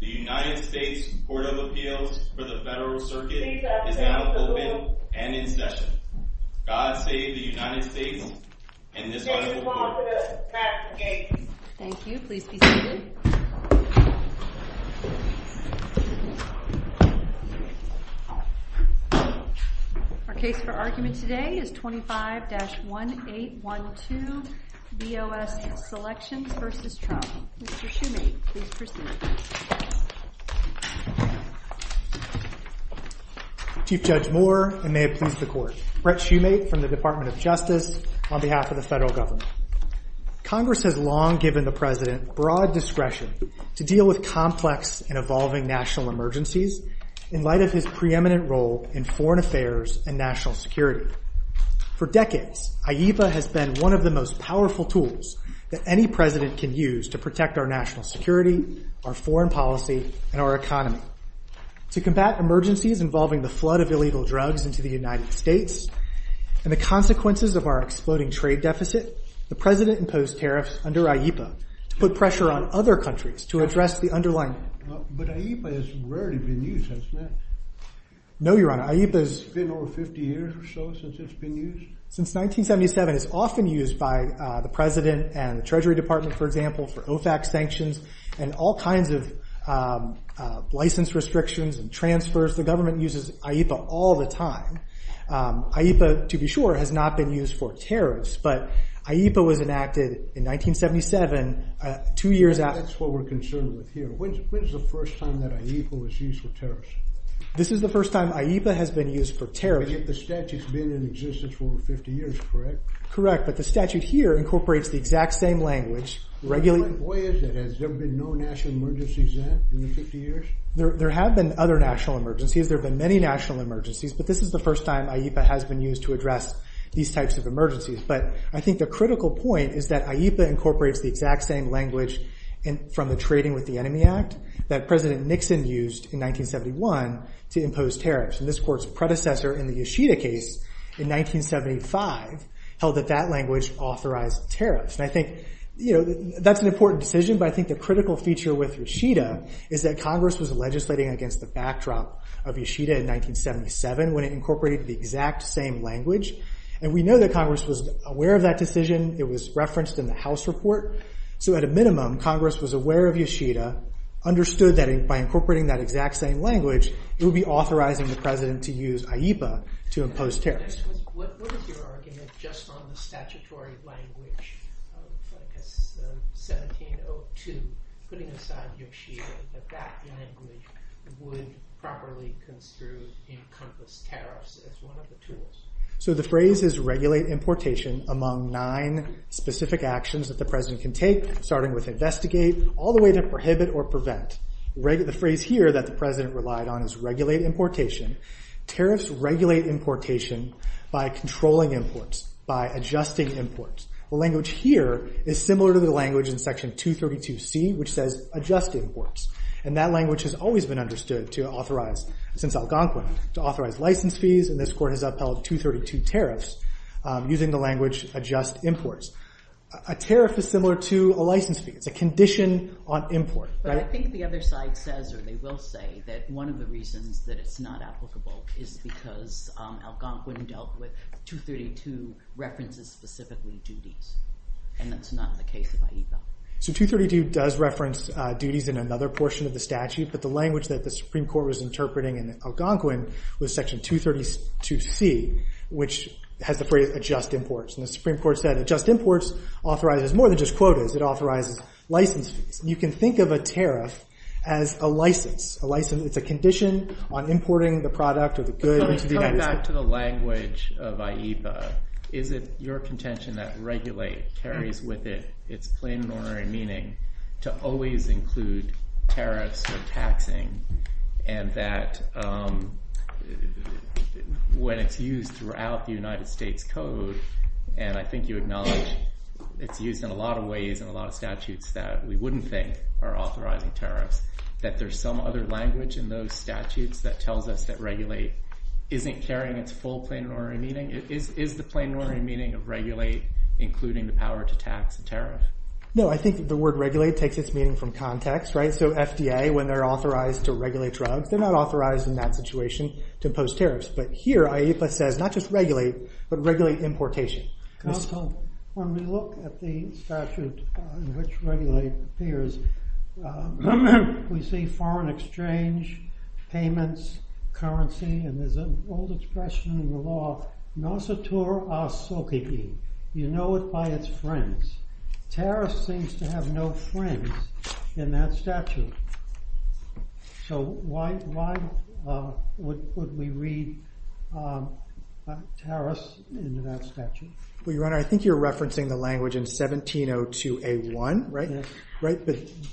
The United States Board of Appeals for the Federal Circuit is now open and in session. God save the United States and this federal court. Thank you, please be seated. Our case for argument today is 25-1812. V.O.S. Selections v. Trump. Mr. Shoemake, please proceed. Chief Judge Moore and may it please the court, Brett Shoemake from the Department of Justice on behalf of the federal government. Congress has long given the president broad discretion to deal with complex and evolving national emergencies in light of his preeminent role in foreign affairs and national security. For decades, IEPA has been one of the most powerful tools that any president can use to protect our national security, our foreign policy, and our economy. To combat emergencies involving the flood of illegal drugs into the United States and the consequences of our exploding trade deficit, the president imposed tariffs under IEPA to put pressure on other countries to address the underlying problem. But IEPA has rarely been used since then. No, you're right. IEPA has been over 50 years or so since it's been used. Since 1977, it's often used by the president and the Treasury Department, for example, for OFAC sanctions and all kinds of license restrictions and transfers. The government uses IEPA all the time. IEPA, to be sure, has not been used for tariffs, but IEPA was enacted in 1977, two years after. That's what we're concerned with here. When's the first time that IEPA was used for tariffs? This is the first time IEPA has been used for tariffs. But the statute's been in existence for over 50 years, correct? Correct, but the statute here incorporates the exact same language. Why is it? Has there been no national emergencies in it in the 50 years? There have been other national emergencies. There have been many national emergencies, but this is the first time IEPA has been used to address these types of emergencies. But I think the critical point is that IEPA incorporates the exact same language from the Trading with the Enemy Act that President Nixon used in 1971 to impose tariffs. And this court's predecessor in the Yoshida case in 1975 held that that language authorized tariffs. And I think that's an important decision, but I think the critical feature with Yoshida is that Congress was legislating against the backdrop of Yoshida in 1977 when it incorporated the exact same language. And we know that Congress was aware of that decision. It was referenced in the House report. So at a minimum, Congress was aware of Yoshida, understood that by incorporating that exact same language, it would be authorizing the President to use IEPA to impose tariffs. What is your argument just on the statutory language of 1702, putting aside Yoshida, that that language would properly impose tariffs as one of the tools? So the phrase is regulate importation among nine specific actions that the President can take, starting with investigate all the way to prohibit or prevent. The phrase here that the President relied on is regulate importation. Tariffs regulate importation by controlling imports, by adjusting imports. The language here is similar to the language in Section 232C, which says adjust imports. And that language has always been understood to authorize, since Algonquin, to authorize license fees. And this court has upheld 232 tariffs using the language adjust imports. A tariff is similar to a license fee. It's a condition on import. But I think the other side says, or they will say, that one of the reasons that it's not applicable is because Algonquin dealt with 232 references specifically duties. And that's not the case with IEPA. So 232 does reference duties in another portion of the statute. But the language that the Supreme Court was interpreting in Algonquin was Section 232C, which has the phrase adjust imports. And the Supreme Court said adjust imports authorizes more than just quotas. It authorizes license fees. You can think of a tariff as a license. It's a condition on importing the product or the goods. But let's come back to the language of IEPA. Is it your contention that regulate carries with it its plain moral meaning to always include tariffs for taxing? And that when it's used throughout the United States code, and I think you acknowledge it's used in a lot of ways in a lot of statutes that we wouldn't think are authorizing tariffs, that there's some other language in those statutes that tells us that regulate isn't carrying its full plain moral meaning? Is the plain moral meaning of regulate including the power to tax the tariff? No, I think the word regulate takes its meaning from context, right? So FDA, when they're authorized to regulate drugs, they're not authorized in that situation to impose tariffs. But here, IEPA says not just regulate, but regulate importation. Counsel, when we look at the statute in which regulate appears, we see foreign exchange, payments, currency, and there's an old expression in the law, you know it by its friends. Tariffs seems to have no friends in that statute. So why would we read tariffs in that statute? Well, your honor, I think you're referencing the language in 1702A1, right?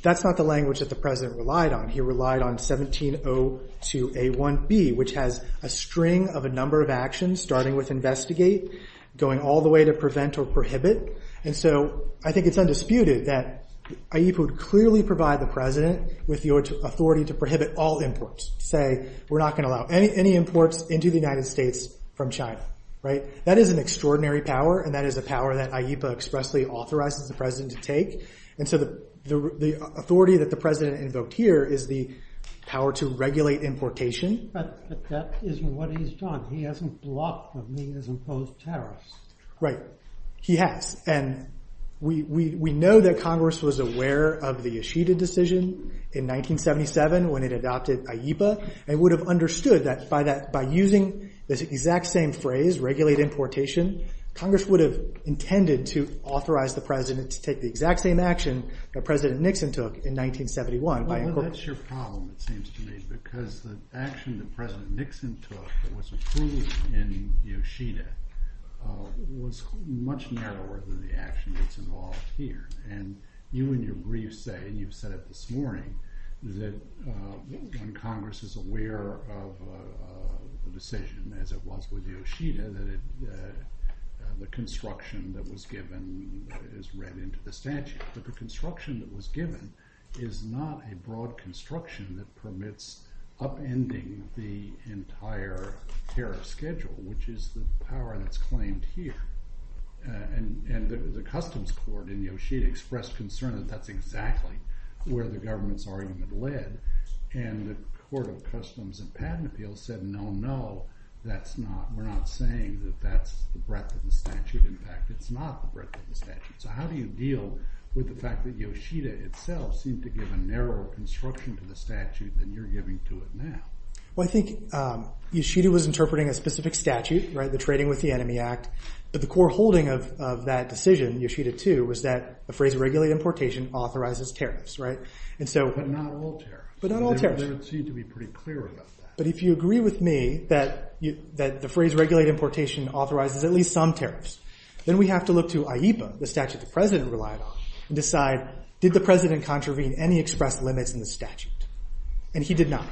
That's not the language that the president relied on. He relied on 1702A1B, which has a string of a number of actions, starting with investigate, going all the way to prevent or prohibit. And so I think it's undisputed that IEPA would clearly provide the president with the authority to prohibit all imports. Say, we're not going to allow any imports into the United States from China, right? That is an extraordinary power, and that is a power that IEPA expressly authorizes the president to take. And so the authority that the president invoked here is the power to regulate importation. But that isn't what he's done. He hasn't blocked the means of imposed tariffs. Right. He has. And we know that Congress was aware of the Yeshiva decision in 1977 when it adopted IEPA, and would have understood that by using this exact same phrase, regulate importation, Congress would have intended to authorize the president to take the exact same action that President Nixon took in 1971. I know that's your problem, it seems to me, because the action that President Nixon took that was included in Yeshiva was much narrower than the action that's involved here. And you in your brief say, and you've said it this morning, that when Congress is aware of the decision, as it was with Yeshiva, that the construction that was given is read into the statute. But the construction that was given is not a broad construction that permits upending the entire tariff schedule, which is the power that's claimed here. And the Customs Court in Yeshiva expressed concern that that's exactly where the government's argument led. And the Court of Customs and Patent Appeals said, no, no, we're not saying that that's the breadth of the statute. In fact, it's not the breadth of the statute. So how do you deal with the fact that Yeshiva itself seems to give a narrower construction to the statute than you're giving to it now? Well, I think Yeshiva was interpreting a specific statute, the Trading with the Enemy Act. But the core holding of that decision, Yeshiva 2, was that the phrase regulate importation authorizes tariffs, right? But not all tariffs. But not all tariffs. They seem to be pretty clear about that. But if you agree with me that the phrase regulate importation authorizes at least some tariffs, then we have to look to IEPA, the statute the President relied on, and decide, did the President contravene any expressed limits in the statute? And he did not,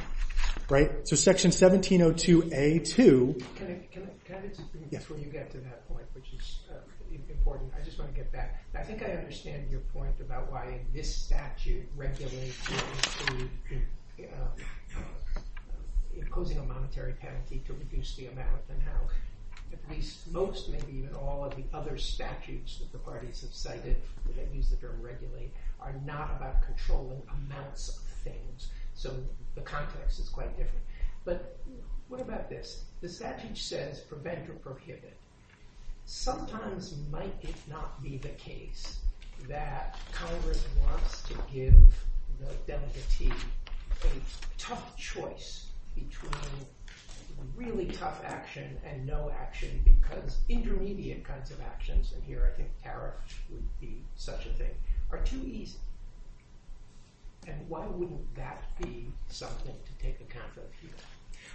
right? So Section 1702A2. Can I just bring you back to that point, which is important? I just want to get back. I think I understand your point about why this statute regulates to imposing a monetary penalty to reduce the amount. At least most, maybe even all, of the other statutes that the parties have cited, the enemies that are regulated, are not about controlling amounts of things. So the context is quite different. But what about this? The statute says prevent or prohibit. Sometimes might it not be the case that Congress wants to give the democracy a tough choice between really tough action and no action, because intermediate kinds of actions, and here I think Eric would see such a thing, are too easy. And why wouldn't that be something to take account of here?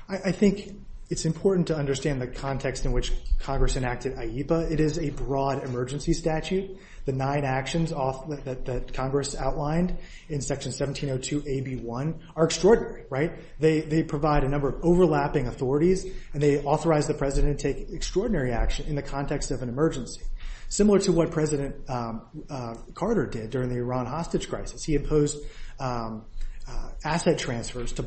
I think it's important to understand the context in which Congress enacted IEPA. It is a broad emergency statute. The nine actions that Congress outlined in Section 1702AB1 are extraordinary, right? They provide a number of overlapping authorities, and they authorize the President to take extraordinary action in the context of an emergency, similar to what President Carter did during the Iran hostage crisis. He imposed asset transfers to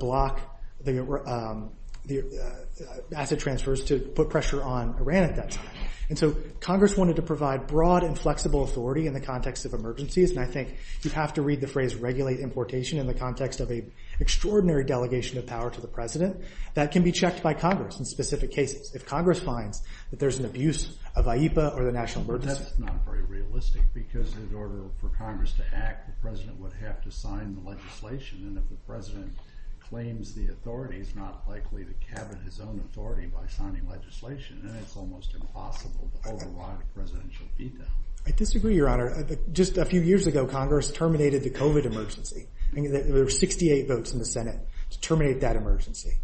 put pressure on Iran at that time. And so Congress wanted to provide broad and flexible authority in the context of emergencies, and I think you have to read the phrase regulate importation in the context of an extraordinary delegation of power to the President. That can be checked by Congress in specific cases. But that's not very realistic, because in order for Congress to act, the President would have to sign the legislation, and if the President claims the authority, it's not likely to cabinet his own authority by signing legislation, and it's almost impossible to override a presidential veto. I disagree, Your Honor. Just a few years ago, Congress terminated the COVID emergency. There were 68 votes in the Senate to terminate that emergency.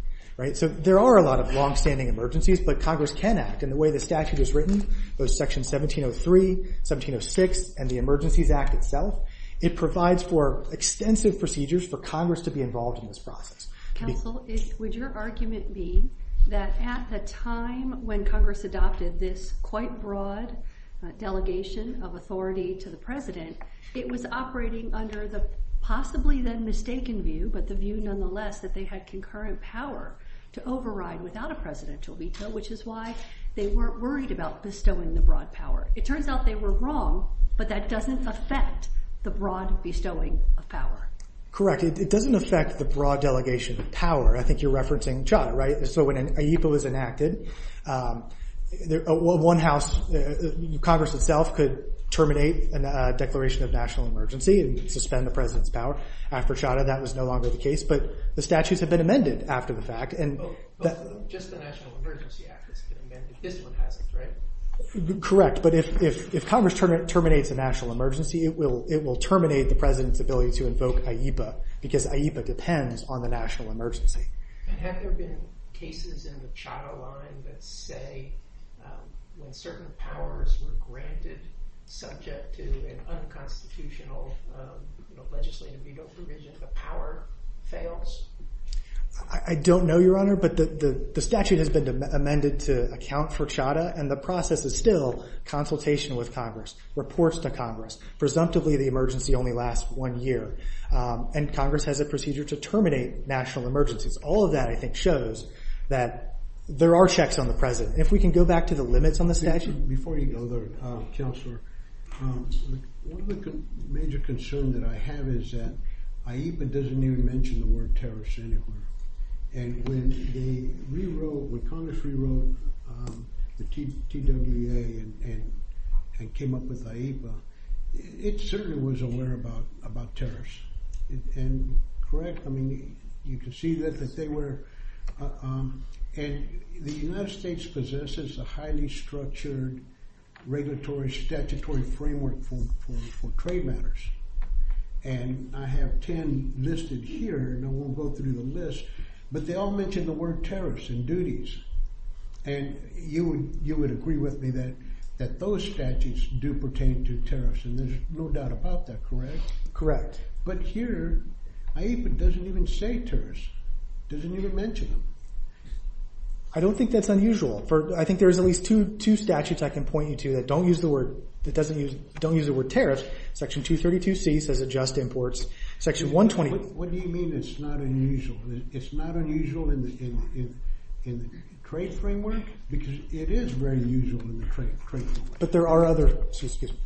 So there are a lot of longstanding emergencies, but Congress can act, and the way the statute is written, there's Section 1703, 1706, and the Emergencies Act itself. It provides for extensive procedures for Congress to be involved in this process. Counsel, would your argument be that at the time when Congress adopted this quite broad delegation of authority to the President, it was operating under the possibly then mistaken view, but the view nonetheless that they had concurrent power to override without a presidential veto, which is why they weren't worried about bestowing the broad power. It turns out they were wrong, but that doesn't affect the broad bestowing of power. Correct. It doesn't affect the broad delegation of power. I think you're referencing Chadha, right? So when a veto is enacted, one house, Congress itself could terminate a declaration of national emergency and suspend the President's power after Chadha. That was no longer the case, but the statutes have been amended after the fact. But just the National Emergency Act is different, right? Correct. But if Congress terminates a national emergency, it will terminate the President's ability to invoke AIPA because AIPA depends on the national emergency. And have there been cases in the Chadha line that say when certain powers were granted subject to an unconstitutional legislative veto provision, the power fails? I don't know, Your Honor, but the statute has been amended to account for Chadha, and the process is still consultation with Congress, reports to Congress. Presumptively, the emergency only lasts one year, and Congress has a procedure to terminate national emergencies. All of that, I think, shows that there are checks on the President. If we can go back to the limits on the statute. Before you go there, Counselor, one of the major concerns that I have is that AIPA doesn't even mention the word terrorist anywhere. And when Congress rewrote the TWA and came up with AIPA, it certainly was aware about terrorists. Correct. I mean, you can see that they were. And the United States possesses a highly structured regulatory statutory framework for trade matters. And I have 10 listed here, and I won't go through the list, but they all mention the word terrorist in duties. And you would agree with me that those statutes do pertain to terrorists, and there's no doubt about that, correct? Correct. But here, AIPA doesn't even say terrorist. It doesn't even mention them. I don't think that's unusual. I think there's at least two statutes I can point you to that don't use the word terrorist. Section 232C says adjust imports. What do you mean it's not unusual? It's not unusual in the trade framework? Because it is very unusual in the trade framework. Excuse me.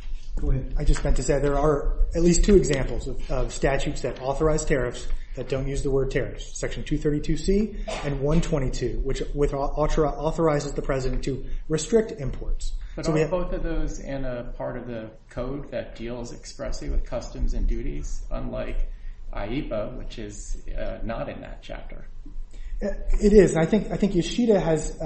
I just meant to say there are at least two examples of statutes that authorize terrorists that don't use the word terrorist. Section 232C and 122, which authorizes the president to restrict imports. But are both of those in a part of the code that deals expressly with customs and duties, unlike AIPA, which is not in that chapter? It is. And I think Yoshida has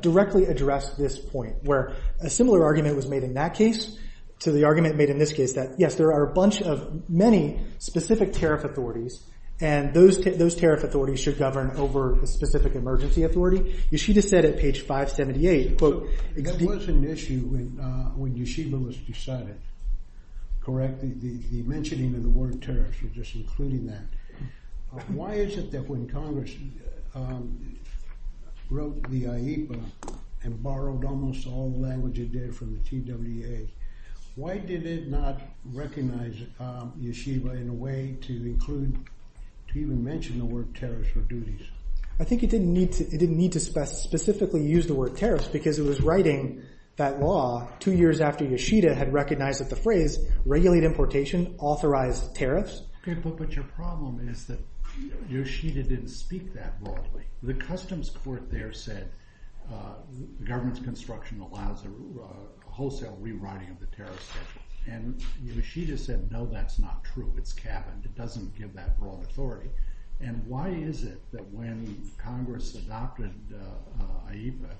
directly addressed this point, where a similar argument was made in that case to the argument made in this case, that yes, there are a bunch of many specific tariff authorities, and those tariff authorities should govern over a specific emergency authority. Yoshida said at page 578, quote, There was an issue when Yoshida was deciding, correct? He mentioned the word terrorist. He was just including that. Why is it that when Congress wrote the AIPA and borrowed almost all the language it did from the TWA, why did it not recognize Yoshida in a way to include, to even mention the word terrorist for duties? I think it didn't need to specifically use the word terrorist because it was writing that law two years after Yoshida had recognized that the phrase, regulate importation, authorize terrorists. But your problem is that Yoshida didn't speak that broadly. The customs court there said government's construction allows a wholesale rewriting of the tariff section. And Yoshida said, no, that's not true. It's capped. It doesn't give that broad authority. And why is it that when Congress adopted AIPA,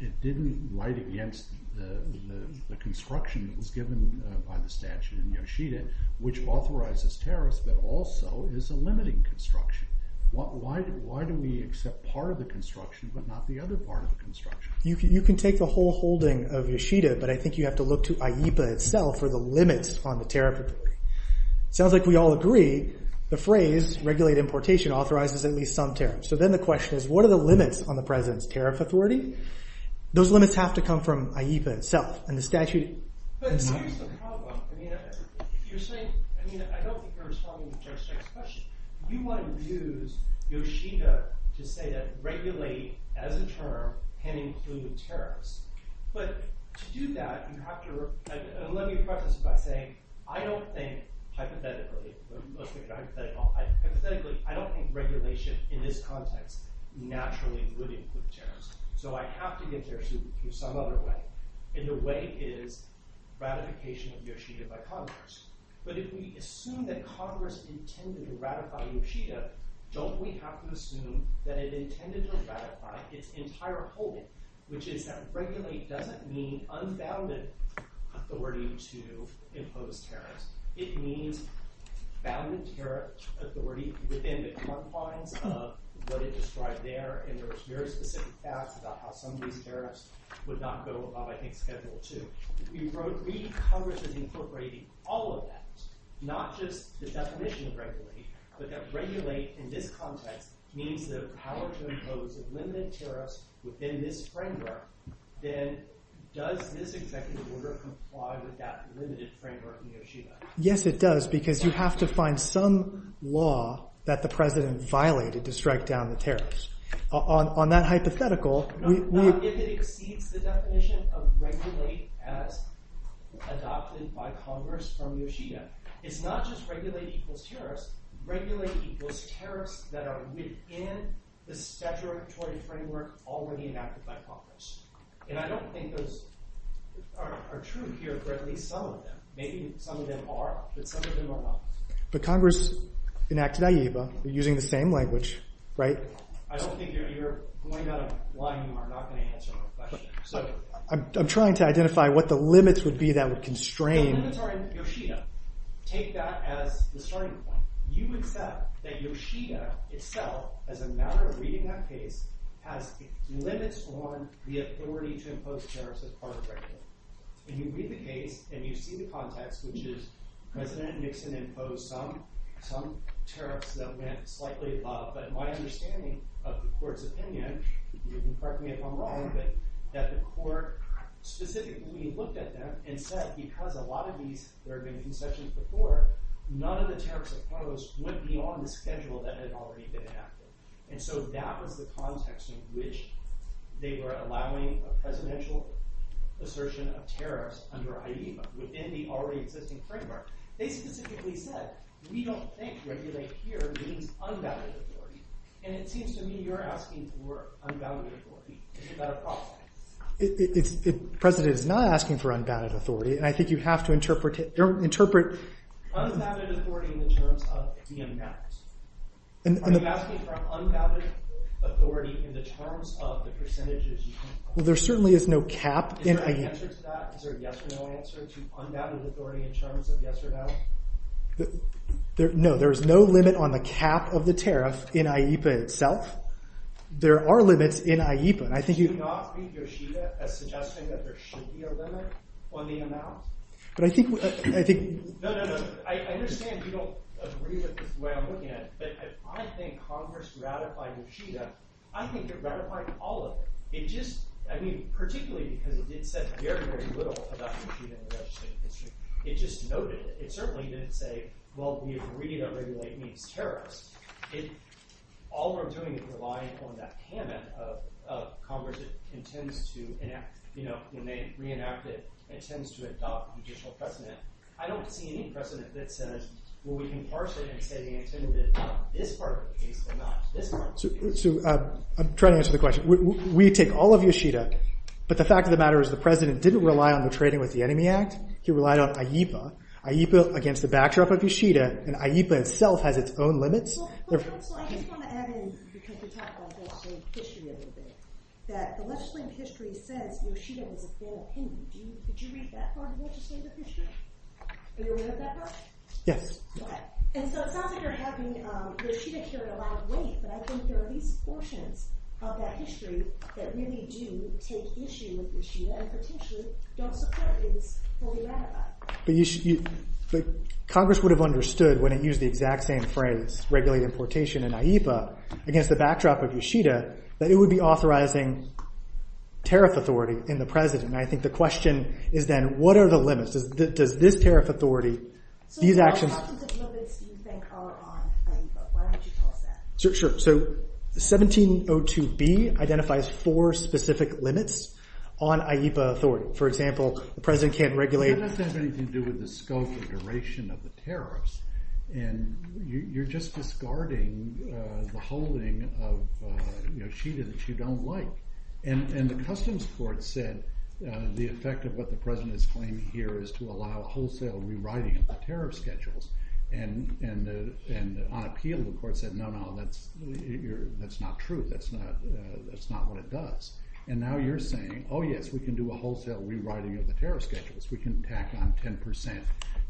it didn't write against the construction that was given by the statute in Yoshida, which authorizes terrorists but also is a limiting construction? Why do we accept part of the construction but not the other part of the construction? You can take the whole holding of Yoshida, but I think you have to look to AIPA itself for the limits on the tariff. Sounds like we all agree the phrase, regulate importation, authorizes at least some terrorists. So then the question is, what are the limits on the president's tariff authority? Those limits have to come from AIPA itself. And the statute has not. But here's the problem. If you're saying, I mean, I don't think you're responding to our second question. We want to use Yoshida to say that regulate as a term can include terrorists. But to do that, you have to, and let me preface by saying, I don't think, hypothetically, I don't think regulation in this context naturally would include terrorists. So I have to get there through some other way. And the way is ratification of Yoshida by Congress. But if we assume that Congress intended to ratify Yoshida, don't we have to assume that it intended to ratify its entire holding, which is that regulate doesn't mean unbounded authority to impose tariffs. It means bounded tariff authority within the confines of what is described there. And there was very specific facts about how some of these tariffs would not go without, I think, federal too. We wrote, Congress is incorporating all of that, not just the definition regulate, but that regulate in this context means the power to impose a limited tariff within this framework. Then does this executive order comply with that limited framework in Yoshida? Yes, it does, because you have to find some law that the president violated to strike down the tariffs. On that hypothetical. Does it exceed the definition of regulate as adopted by Congress from Yoshida? It's not just regulate equals tariffs. Regulate equals tariffs that are within the statutory framework already enacted by Congress. And I don't think those are true here, but at least some of them. Maybe some of them are, but some of them are not. But Congress enacted IEVA using the same language, right? I don't think you're going out of line. You are not going to answer my question. I'm trying to identify what the limits would be that would constrain. Yoshida, take that as the starting point. You accept that Yoshida itself, as a matter of reading that case, has limits on the authority to impose tariffs as part of regulate. And you read the case, and you see the context, which is President Nixon imposed some tariffs, slightly above, but my understanding of the court's opinion, and you can correct me if I'm wrong, but I don't think that the court specifically looked at them and said, because a lot of these there have been concessions before, none of the tariffs imposed went beyond the schedule that had already been enacted. And so that was the context in which they were allowing a presidential assertion of tariffs under IEVA within the already existing framework. They specifically said, we don't think regulate here means unvalued authority. And it seems to me you're asking for unvalued authority. Is that a problem? The president is not asking for unvalued authority, and I think you have to interpret it. Unvalued authority in terms of the unbalanced. Are you asking for unvalued authority in terms of the percentages? Well, there certainly is no cap. Is there a yes or no answer to unvalued authority in terms of yes or no? No, there's no limit on the cap of the tariff in IEVA itself. There are limits in IEVA. Do you not think Yoshida is suggesting that there should be a limit on the amount? No, no, no. I understand you don't agree with the way I'm looking at it, but I think Congress ratified Yoshida. I think it ratified all of it. It just, I mean, particularly because it said very, very little about Yoshida and Yoshida. It just noted it. It certainly didn't say, well, we agree to regulate mean terrorists. All we're doing is reliant on that payment of Congress's intent to enact, you know, when they reenact it, it tends to adopt a judicial precedent. I don't see any precedent in this senate where we can parse it and say the intent is not this part of the case but not this part of the case. I'm trying to answer the question. We take all of Yoshida, but the fact of the matter is the president didn't rely on the Trading with the Enemy Act. He relied on AIPA, AIPA against the backdrop of Yoshida, and AIPA itself has its own limits. Well, I just want to add in, because you talked about that same issue a little bit, that the legislative history says Yoshida was a bad king. Did you read that part of the legislative history? Are you aware of that part? Yes. Okay. And so it sounds like you're talking that Yoshida carried a lot of weight, but I think there are at least portions of that history that really do take issue with Yoshida, and if it's an issue, the other part is what we read about. Congress would have understood when it used the exact same phrase, regulated importation and AIPA, against the backdrop of Yoshida, that it would be authorizing tariff authority in the president, and I think the question is then what are the limits? Does this tariff authority, these actions— Talk about the limits you think are on AIPA. Why don't you talk about that? Sure. So 1702B identifies four specific limits on AIPA authority. For example, the president can't regulate— I think that has something to do with the scope and duration of the tariffs, and you're just discarding the holding of Yoshida that you don't like, and the customs court said the effect of what the president is claiming here is to allow wholesale rewriting of the tariff schedules, and the unappealing court said no, no, that's not true. That's not what it does, and now you're saying, oh yes, we can do a wholesale rewriting of the tariff schedules. We can tack on 10%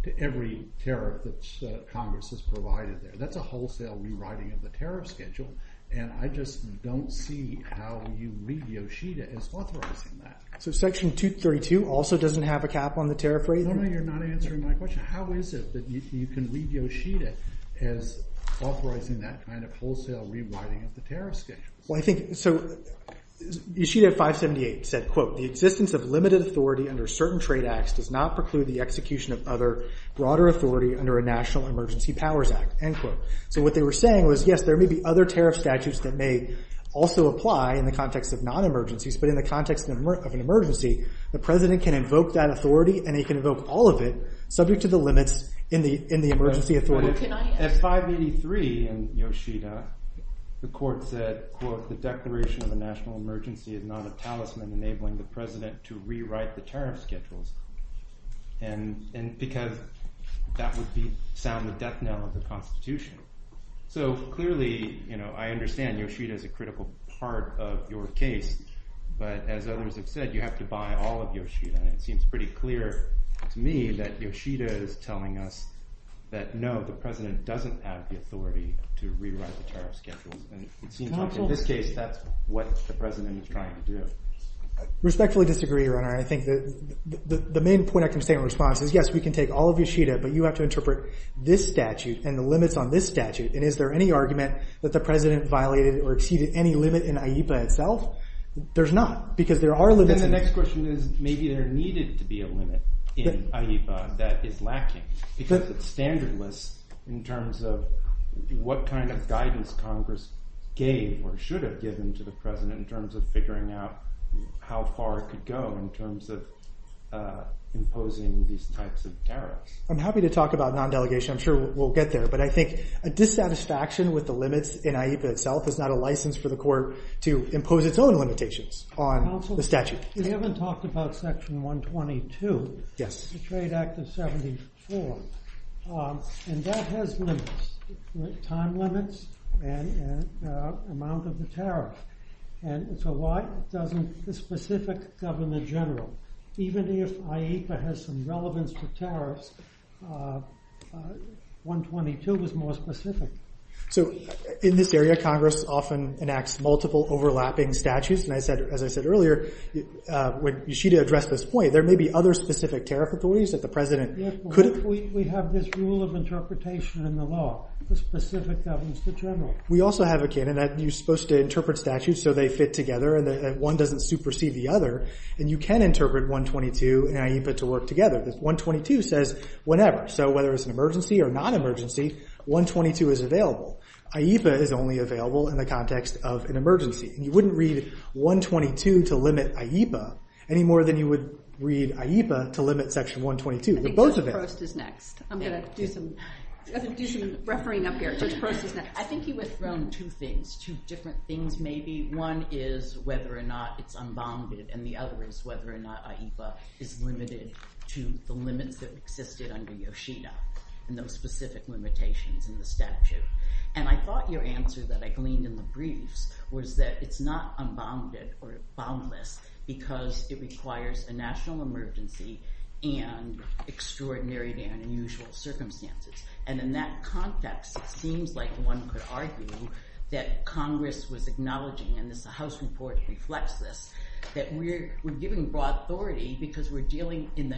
to every tariff that Congress has provided there. That's a wholesale rewriting of the tariff schedule, and I just don't see how you read Yoshida as authorizing that. So Section 232 also doesn't have a cap on the tariff rate? No, you're not answering my question. How is it that you can read Yoshida as authorizing that kind of wholesale rewriting of the tariff schedule? Well, I think—so Yoshida 578 said, quote, the existence of limited authority under certain trade acts does not preclude the execution of other broader authority under a national emergency powers act, end quote. So what they were saying was, yes, there may be other tariff statutes that may also apply in the context of non-emergencies, but in the context of an emergency, the president can invoke that authority, and he can invoke all of it, subject to the limits in the emergency authority. At 583 in Yoshida, the court said, quote, the declaration of a national emergency is not a talisman enabling the president to rewrite the tariff schedules, and because that was the sound of death knell of the Constitution. So clearly, you know, I understand Yoshida is a critical part of your case, but as others have said, you have to buy all of Yoshida, and it seems pretty clear to me that Yoshida is telling us that, no, the president doesn't have the authority to rewrite the tariff schedule, and it seems like in this case, that's what the president is trying to do. Respectfully disagree, Your Honor. I think that the main point I can say in response is, yes, we can take all of Yoshida, but you have to interpret this statute and the limits on this statute, and is there any argument that the president violated or exceeded any limit in AIPA itself? There's not, because there are limits. Then the next question is, maybe there needed to be a limit in AIPA that is lacking, because it's standardless in terms of what kind of guidance Congress gave or should have given to the president in terms of figuring out how far it could go in terms of imposing these types of tariffs. I'm happy to talk about non-delegation. I'm sure we'll get there, but I think a dissatisfaction with the limits in AIPA itself is not a license for the court to impose its own limitations on the statute. Counsel, you haven't talked about Section 122. Yes. The Trade Act of 1974, and that has limits, time limits, and amount of the tariff, and it's a specific government general. Even if AIPA has some relevance to tariffs, 122 is more specific. In this area, Congress often enacts multiple overlapping statutes, and as I said earlier, when you should address this point, there may be other specific tariff authorities that the president couldn't... Yes, but we have this rule of interpretation in the law, the specific government general. We also have a canon that you're supposed to interpret statutes so they fit together and one doesn't supersede the other, and you can interpret 122 in AIPA to work together. This 122 says whenever, so whether it's an emergency or non-emergency, 122 is available. AIPA is only available in the context of an emergency. You wouldn't read 122 to limit AIPA any more than you would read AIPA to limit Section 122 with both of them. I'm going to do some refereeing up here. I think he was thrown two things, two different things maybe. One is whether or not it's unbonded, and the other is whether or not AIPA is limited to the limits that existed under Yoshida and the specific limitations in the statute. And I thought your answer that I gleaned in the briefs was that it's not unbonded or boundless because it requires a national emergency and extraordinary and unusual circumstances. And in that context, it seems like one could argue that Congress was acknowledging, and the House report reflects this, that we're giving broad authority because we're dealing in the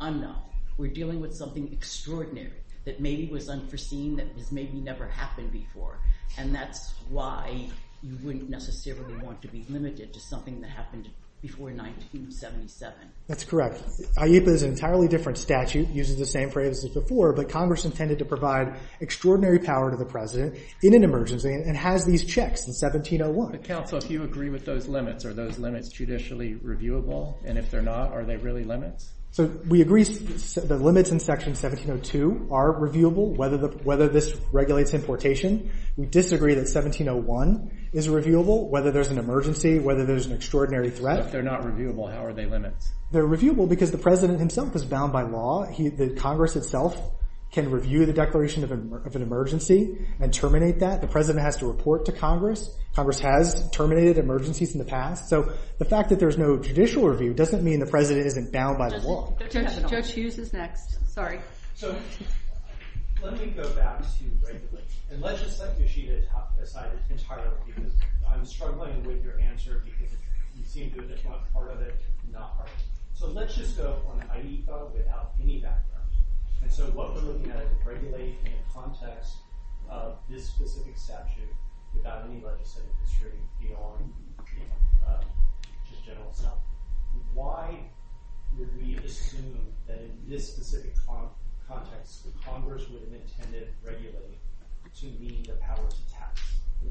unknown. We're dealing with something extraordinary that maybe was unforeseen that maybe never happened before, and that's why you wouldn't necessarily want to be limited to something that happened before 1977. That's correct. AIPA is an entirely different statute using the same phrase as before, but Congress intended to provide extraordinary power to the President in an emergency and has these checks in 1701. Counsel, if you agree with those limits, are those limits judicially reviewable? And if they're not, are they really limited? We agree the limits in Section 1702 are reviewable, whether this regulates importation. We disagree that 1701 is reviewable, whether there's an emergency, whether there's an extraordinary threat. If they're not reviewable, how are they limited? They're reviewable because the President himself is bound by law. Congress itself can review the Declaration of an Emergency and terminate that. The President has to report to Congress. Congress has terminated emergencies in the past. So the fact that there's no judicial review doesn't mean the President isn't bound by the law. Judge Hughes is next. Sorry. So let me go back to regulations. And let's just say the issue is outside entirely. I'm struggling with your answer because you seem to want part of it, not part of it. So let's just go on an AIPA without any background. So what we're looking at is a regulation in the context of this specific statute without any legislative discrepancy at all. It's just general stuff. Why would we assume that in this specific context that Congress would have intended to regulate to mean the power to tax?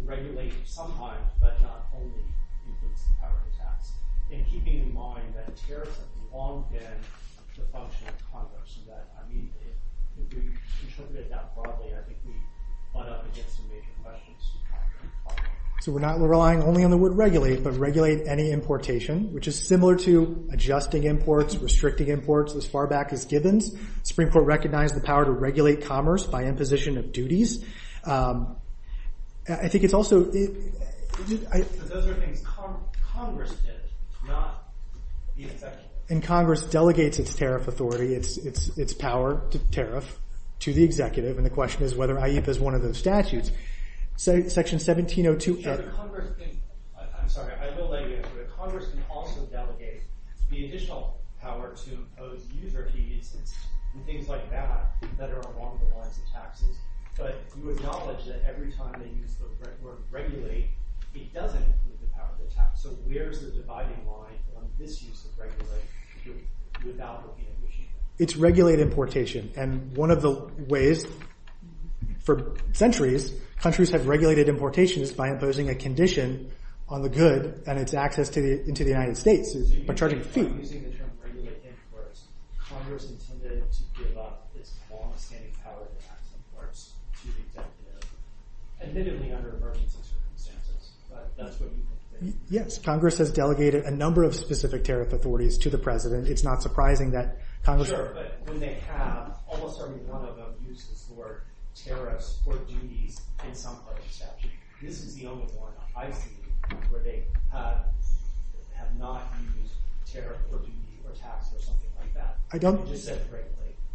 Regulation sometimes, but not only, means the power to tax. So we're relying only on the word regulate, but regulate any importation, which is similar to adjusting imports, restricting imports, as far back as Gibbons. The Supreme Court recognized the power to regulate commerce by imposition of duties. I think it's also... And Congress delegates its tariff authority, its power to tariff to the executive, and the question is whether AIPA is one of those statutes. Section 1702... You acknowledge that every time they use the word regulate, it doesn't include the power to tax. So where's the dividing line on this use of regulate to devalue the condition? It's regulated importation, and one of the ways, for centuries, countries have regulated importations by imposing a condition on the good and its access into the United States is by charging a fee. So you're using the term regulate imports. Congress intended to give up its long-standing power to tax imports to the executive, admittedly under emergency circumstances, but that's what we think. Yes, Congress has delegated a number of specific tariff authorities to the president. It's not surprising that Congress... Sure, but when they have, almost every one of them used the word tariffs for duty in some other statute.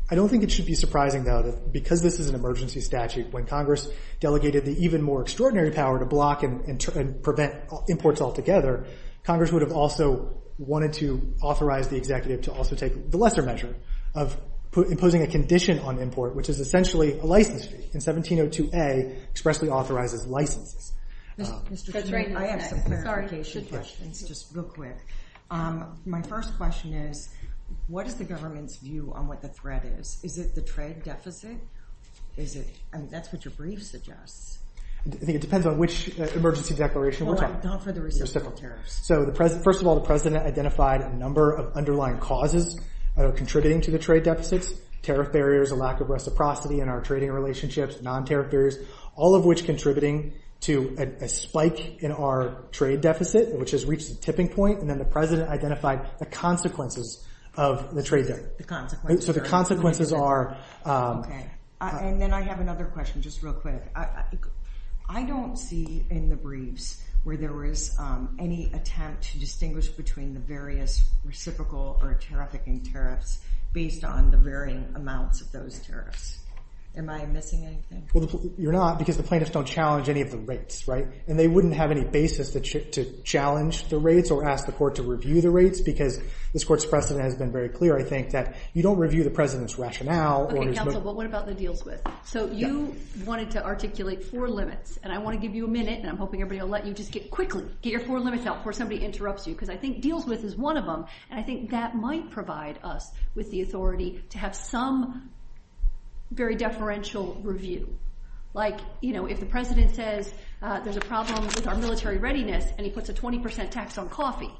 I don't think it should be surprising, though, that because this is an emergency statute, when Congress delegated the even more extraordinary power to block and prevent imports altogether, Congress would have also wanted to authorize the executive to also take the lesser measure of imposing a condition on import, which is essentially a license. And 1702A expressly authorizes license. Mr. Strain, I have a clarification question, just real quick. My first question is, what is the government's view on what the threat is? Is it the trade deficit? I mean, that's what your brief suggests. I think it depends on which emergency declaration we're talking about. So first of all, the president identified a number of underlying causes of contributing to the trade deficit, tariff barriers, a lack of reciprocity in our trading relationships, non-tariff barriers, all of which contributing to a spike in our trade deficit, which has reached a tipping point, and then the president identified the consequences of the trade deficit. So the consequences are... And then I have another question, just real quick. I don't see in the briefs where there was any attempt to distinguish between the various reciprocal or trafficking tariffs based on the varying amounts of those tariffs. Am I missing anything? You're not, because the plaintiffs don't challenge any of the rates, right? And they wouldn't have any basis to challenge the rates or ask the court to review the rates, because this court's precedent has been very clear, I think, that you don't review the president's rationale... Okay, counsel, but what about the deals with? So you wanted to articulate four limits, and I want to give you a minute, and I'm hoping everybody will let you just get quickly, get your four limits out before somebody interrupts you, because I think deals with is one of them, and I think that might provide us with the authority to have some very deferential review. Like, you know, if the president says there's a problem with our military readiness, and he puts a 20% tax on coffee,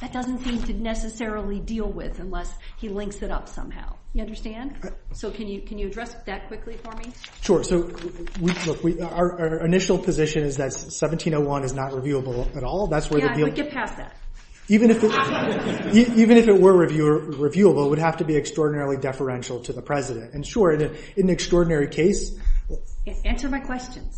that doesn't seem to necessarily deal with unless he links it up somehow. You understand? So can you address that quickly for me? Sure. So our initial position is that 1701 is not reviewable at all. Yeah, but get past that. Even if it were reviewable, it would have to be extraordinarily deferential to the president. And sure, in an extraordinary case... Answer my question.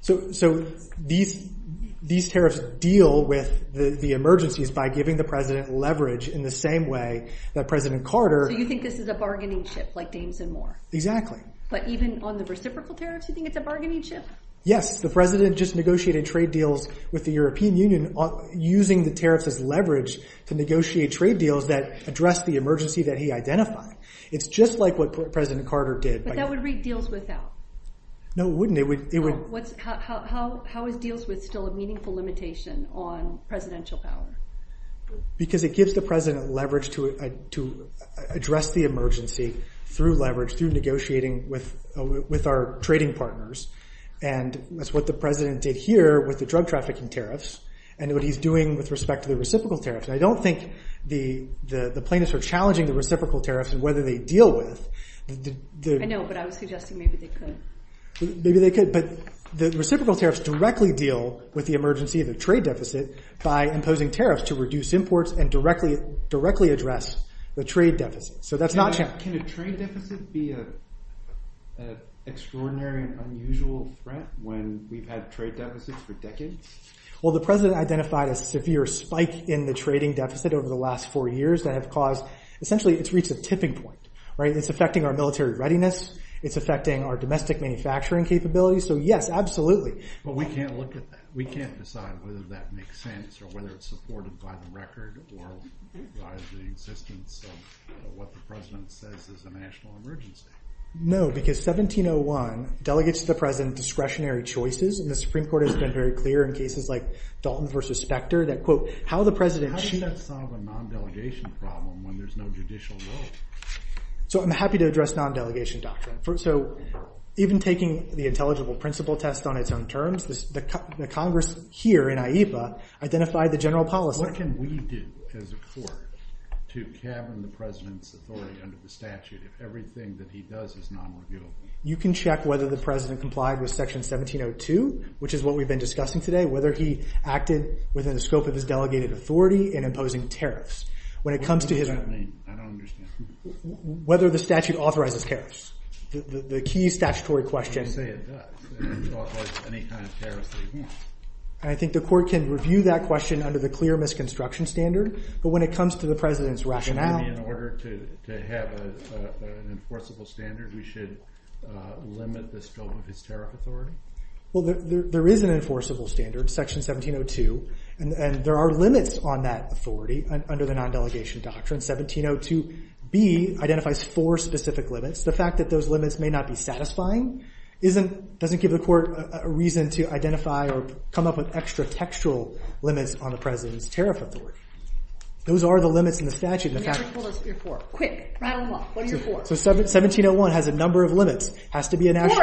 So these tariffs deal with the emergencies by giving the president leverage in the same way that President Carter... So you think this is a bargaining chip, like James and Moore? Exactly. But even on the reciprocal tariffs, you think it's a bargaining chip? Yes, the president just negotiated trade deals with the European Union using the tariffs as leverage to negotiate trade deals that address the emergency that he identified. It's just like what President Carter did. But that would read deals without. No, it wouldn't. How is deals with still a meaningful limitation on presidential power? Because it gives the president leverage to address the emergency through leverage, through negotiating with our trading partners. And that's what the president did here with the drug trafficking tariffs, and what he's doing with respect to the reciprocal tariffs. I don't think the plaintiffs are challenging the reciprocal tariffs and whether they deal with... I know, but I was suggesting maybe they could. Maybe they could. But the reciprocal tariffs directly deal with the emergency of the trade deficit by imposing tariffs to reduce imports and directly address the trade deficit. So that's not... Can a trade deficit be an extraordinary, unusual threat when we've had trade deficits for decades? Well, the president identified a severe spike in the trading deficit over the last four years that has caused... Essentially, it's reached a tipping point. It's affecting our military readiness. It's affecting our domestic manufacturing capabilities. So yes, absolutely. But we can't look at that. We can't decide whether that makes sense or whether it's supported by the record or by the existence of what the president says is a national emergency. No, because 1701, delegates to the president have been discretionary choices, and the Supreme Court has been very clear in cases like Dalton v. Specter that, quote, how the president... How do you solve a non-delegation problem when there's no judicial vote? So I'm happy to address non-delegation doctrine. So even taking the intelligible principle test on its own terms, the Congress here in IEFA identified the general policy... What can we do as a court to cavern the president's authority under the statute if everything that he does is non-legitimate? You can check whether the president complied with Section 1702, which is what we've been discussing today, whether he acted within the scope of his delegated authority in imposing tariffs. When it comes to his... What does that mean? I don't understand. Whether the statute authorizes tariffs. The key statutory question... I can't say it does. It doesn't authorize any kind of tariffs we want. I think the court can review that question under the clear misconstruction standard, but when it comes to the president's rationale... In order to have an enforceable standard, we should limit the scope of his tariff authority? Well, there is an enforceable standard, Section 1702, and there are limits on that authority under the non-delegation doctrine. 1702B identifies four specific limits. The fact that those limits may not be satisfying doesn't give the court a reason to identify or come up with extra-textual limits on the president's tariff authority. Those are the limits in the statute. What are your four? Quick, round them off. 1701 has a number of limits. It has to be a national...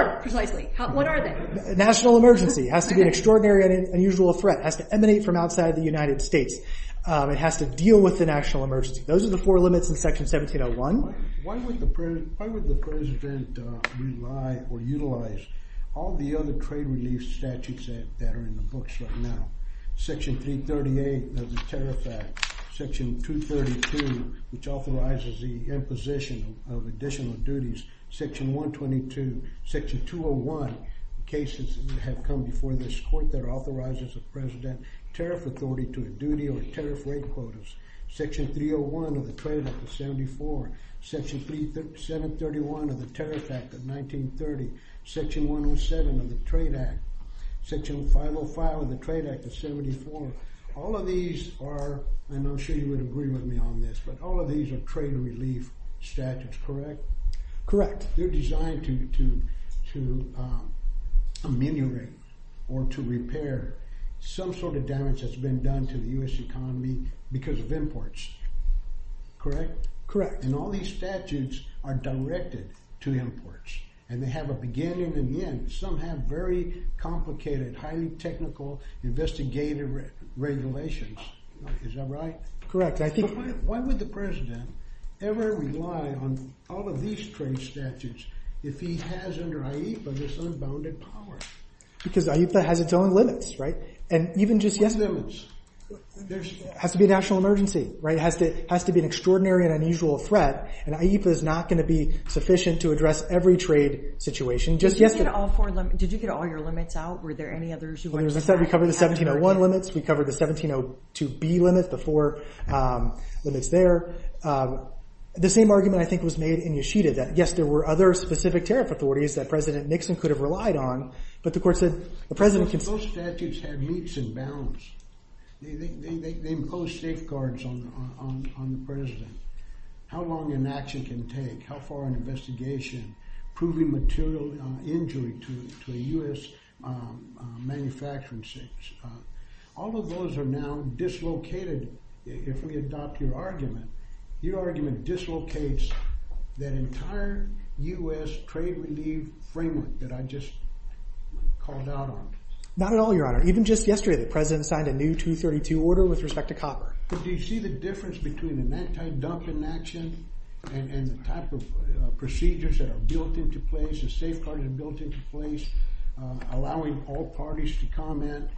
What are they? National emergency. It has to be an extraordinary and unusual threat. It has to emanate from outside the United States. It has to deal with the national emergency. Those are the four limits in Section 1701. Why would the president utilize all the other trade relief statutes that are in the books right now? Section 338 of the Tariff Act, Section 232, which authorizes the imposition of additional duties, Section 122, Section 201, cases that have come before this court that authorizes the president's tariff authority to the duty of tariff rate quotas, Section 301 of the Trade Act of 74, Section 731 of the Tariff Act of 1930, Section 107 of the Trade Act, Section 505 of the Trade Act of 74. All of these are... I'm not sure you would agree with me on this, but all of these are trade relief statutes, correct? Correct. They're designed to ameliorate or to repair some sort of damage that's been done to the U.S. economy because of imports, correct? Correct. And all these statutes are directed to imports, and they have a beginning and an end. Some have very complicated, highly technical investigative regulations. Is that right? Correct. Why would the president ever rely on all of these trade statutes if he has under IEFA this unbounded power? Because IEFA has its own limits, right? And even just yesterday... It has to be a national emergency, right? It has to be an extraordinary and unusual threat, and IEFA is not going to be sufficient to address every trade situation. Did you get all your limits out? Were there any others? We covered the 1701 limits, we covered the 1702B limit, the four limits there. The same argument, I think, was made in Yoshida that, yes, there were other specific tariff authorities that President Nixon could have relied on, but the court said the president could... Those statutes have heaps of bounds. They impose safeguards on the president. How long an action can take, how far an investigation, proving material injury to a U.S. manufacturing site. All of those are now dislocated, if we adopt your argument. Your argument dislocates that entire U.S. trade relief framework that I just called out on. Not at all, Your Honor. Even just yesterday, the president signed a new 232 order with respect to copper. Do you see the difference between a non-conductive action and the type of procedures that are built into place, the safeguards that are built into place, allowing all parties to comment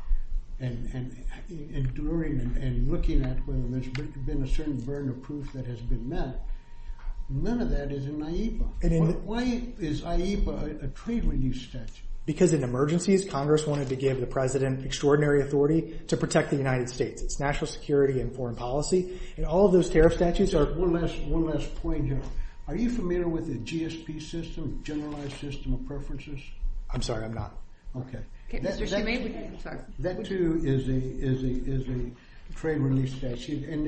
and enduring and looking at whether there's been a certain burden of proof that has been met? None of that is in IEPA. Why is IEPA a trade relief statute? Because in emergencies, Congress wanted to give the president extraordinary authority to protect the United States, national security and foreign policy, and all of those tariff statutes are... One last point here. Are you familiar with the GSP system, Generalized System of Preferences? I'm sorry, I'm not. Okay. That too is a trade relief statute, and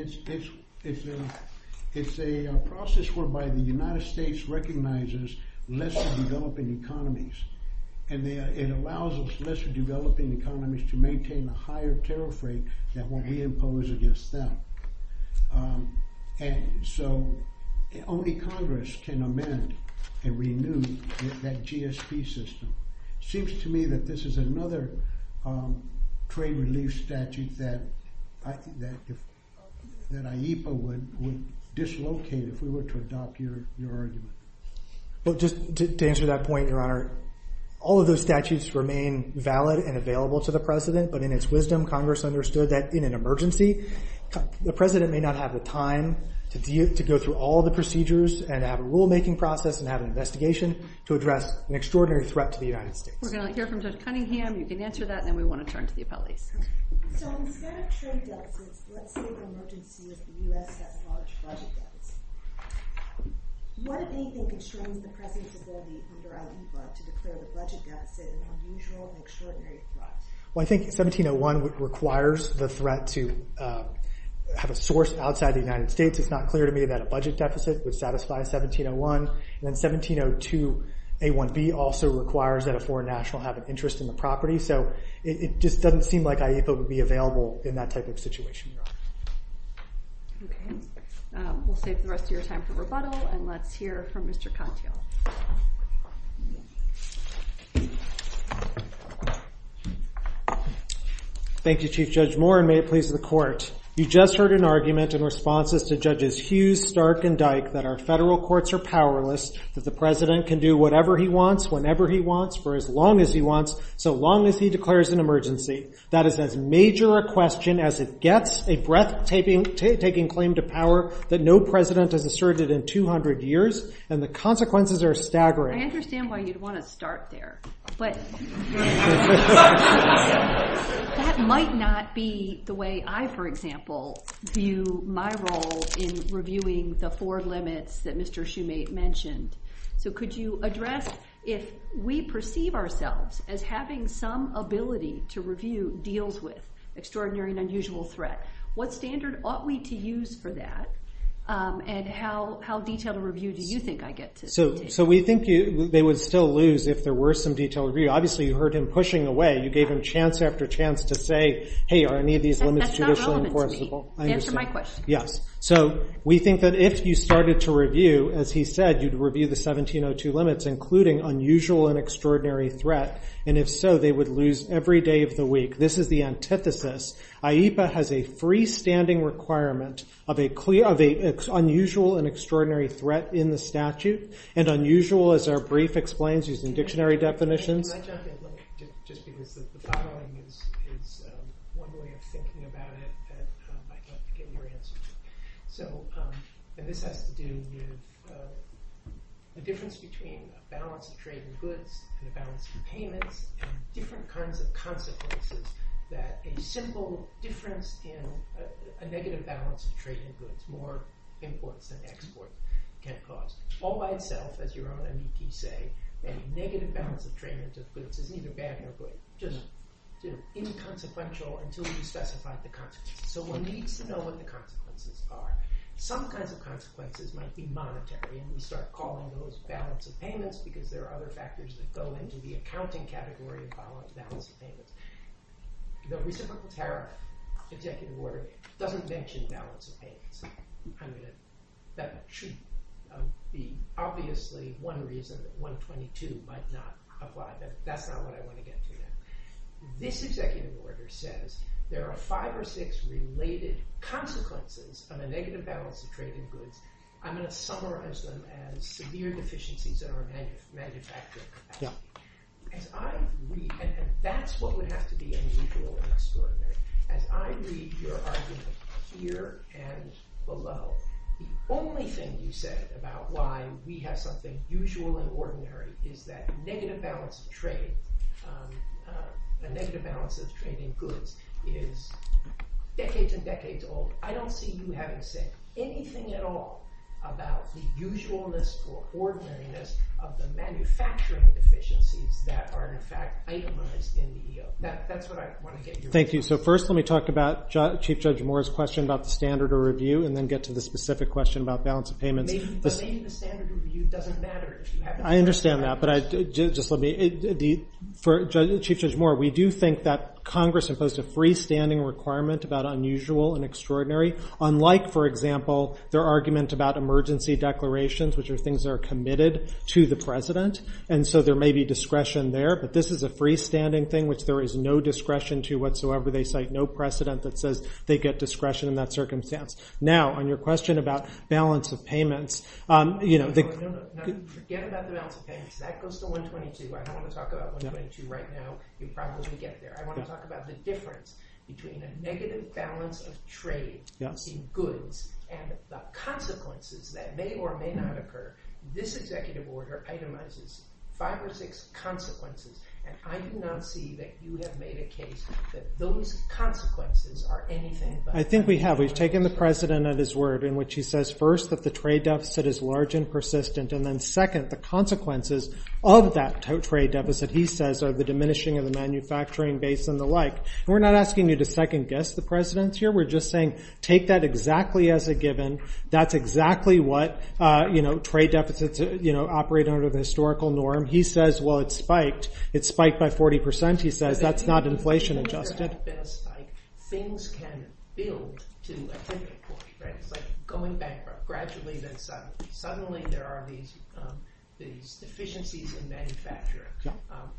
it's a process whereby the United States recognizes less developing economies, and it allows less developing economies to maintain a higher tariff rate than what he imposed against them. And so only Congress can amend and renew that GSP system. Seems to me that this is another trade relief statute that IEPA would dislocate if we were to adopt your argument. Well, just to answer that point, Your Honor, all of those statutes remain valid and available to the president, but in its wisdom, Congress understood that in an emergency, the president may not have the time to go through all the procedures and have a rulemaking process and have an investigation to address an extraordinary threat to the United States. We're going to hear from Judge Cunningham. You can answer that, and then we want to turn to the appellees. Well, I think 1701 requires the threat to have a source outside the United States. It's not clear to me that a budget deficit would satisfy 1701. And then 1702A1B also requires that a foreign national have an interest in the property. So it just doesn't seem like IEPA would be available in that type of situation, Your Honor. Okay. We'll save the rest of your time for rebuttal, and let's hear from Mr. Cunningham. Thank you, Chief Judge Moore, and may it please the Court. You just heard an argument in response to Judges Hughes, Stark, and Dyke that our federal courts are powerless, that the president can do whatever he wants, whenever he wants, for as long as he wants, so long as he declares an emergency. That is as major a question as it gets, a breathtaking claim to power that no president has asserted in 200 years, and the consequences are staggering. I understand why you'd want to start there. But... That might not be the way I, for example, view my role in reviewing the four limits that Mr. Shumate mentioned. So could you address, if we perceive ourselves as having some ability to review deals with extraordinary and unusual threats, what standard ought we to use for that? And how detailed a review do you think I get to see? So we think they would still lose if there were some detailed review. Obviously, you heard him pushing away. You gave him chance after chance to say, hey, I need these limits to be enforceable. Answer my question. Yeah. So we think that if you started to review, as he said, you'd review the 1702 limits, including unusual and extraordinary threat, and if so, they would lose every day of the week. This is the antithesis. IEPA has a freestanding requirement of an unusual and extraordinary threat in the statute, and unusual, as our brief explains, is a dictionary definition. Just because the bottom line is, one way of thinking about it, I can't get your answer. So this has to do with the difference between a balance of trade in goods and a balance of payment, and different kinds of consequences that a simple difference in, a negative balance of trade in goods, more imports than exports, can cause. All by itself, as you say, a negative balance of trade in goods is neither bad nor good. Just is inconsequential until you specify the consequences. So we need to know what the consequences are. Some kinds of consequences might be monetary, and we start calling those balance of payments because there are other factors that go into the accounting category of balance of payments. The reciprocal tariff executive order doesn't mention balance of payments. I mean, that should be obviously one reason that 122 might not apply. That's not what I want to get to there. This executive order says there are five or six related consequences on a negative balance of trade in goods. I'm going to summarize them as severe deficiencies that are manufactured. And that's what would have to be unusual and extraordinary. As I read your arguments here and below, the only thing you said about why we have something usual and ordinary is that negative balance of trade, the negative balance of trade in goods, is decades and decades old. I don't see you having to say anything at all about the usualness or ordinariness of the manufacturing deficiencies that are in fact itemized in the EO. That's what I want to get to. Thank you. So first let me talk about Chief Judge Moore's question about the standard of review and then get to the specific question about balance of payments. Maybe the standard of review doesn't matter. I understand that, but I just want to be... For Chief Judge Moore, we do think that Congress imposed a freestanding requirement about unusual and extraordinary, unlike, for example, their argument about emergency declarations, which are things that are committed to the president. And so there may be discretion there, but this is a freestanding thing which there is no discretion to whatsoever. They cite no precedent that says they get discretion in that circumstance. Now on your question about balance of payments, Forget about the balance of payments. That goes to 122. I don't want to talk about 122 right now. You'll probably get there. I want to talk about the difference between a negative balance of trade in goods and the consequences that may or may not occur. This executive order itemizes five or six consequences, and I do not see that you have made a case that those consequences are anything but. I think we have. We've taken the president at his word in which he says, first, that the trade deficit is large and persistent, and then, second, the consequences of that trade deficit, he says, are the diminishing of the manufacturing base and the like. We're not asking you to second-guess the president here. We're just saying take that exactly as a given. That's exactly what trade deficits operate under the historical norm. He says, well, it's spiked. It's spiked by 40%. He says that's not inflation-adjusted. Things can build to a different course. It's like going bankrupt, gradually then suddenly. Suddenly, there are these deficiencies in manufacturing,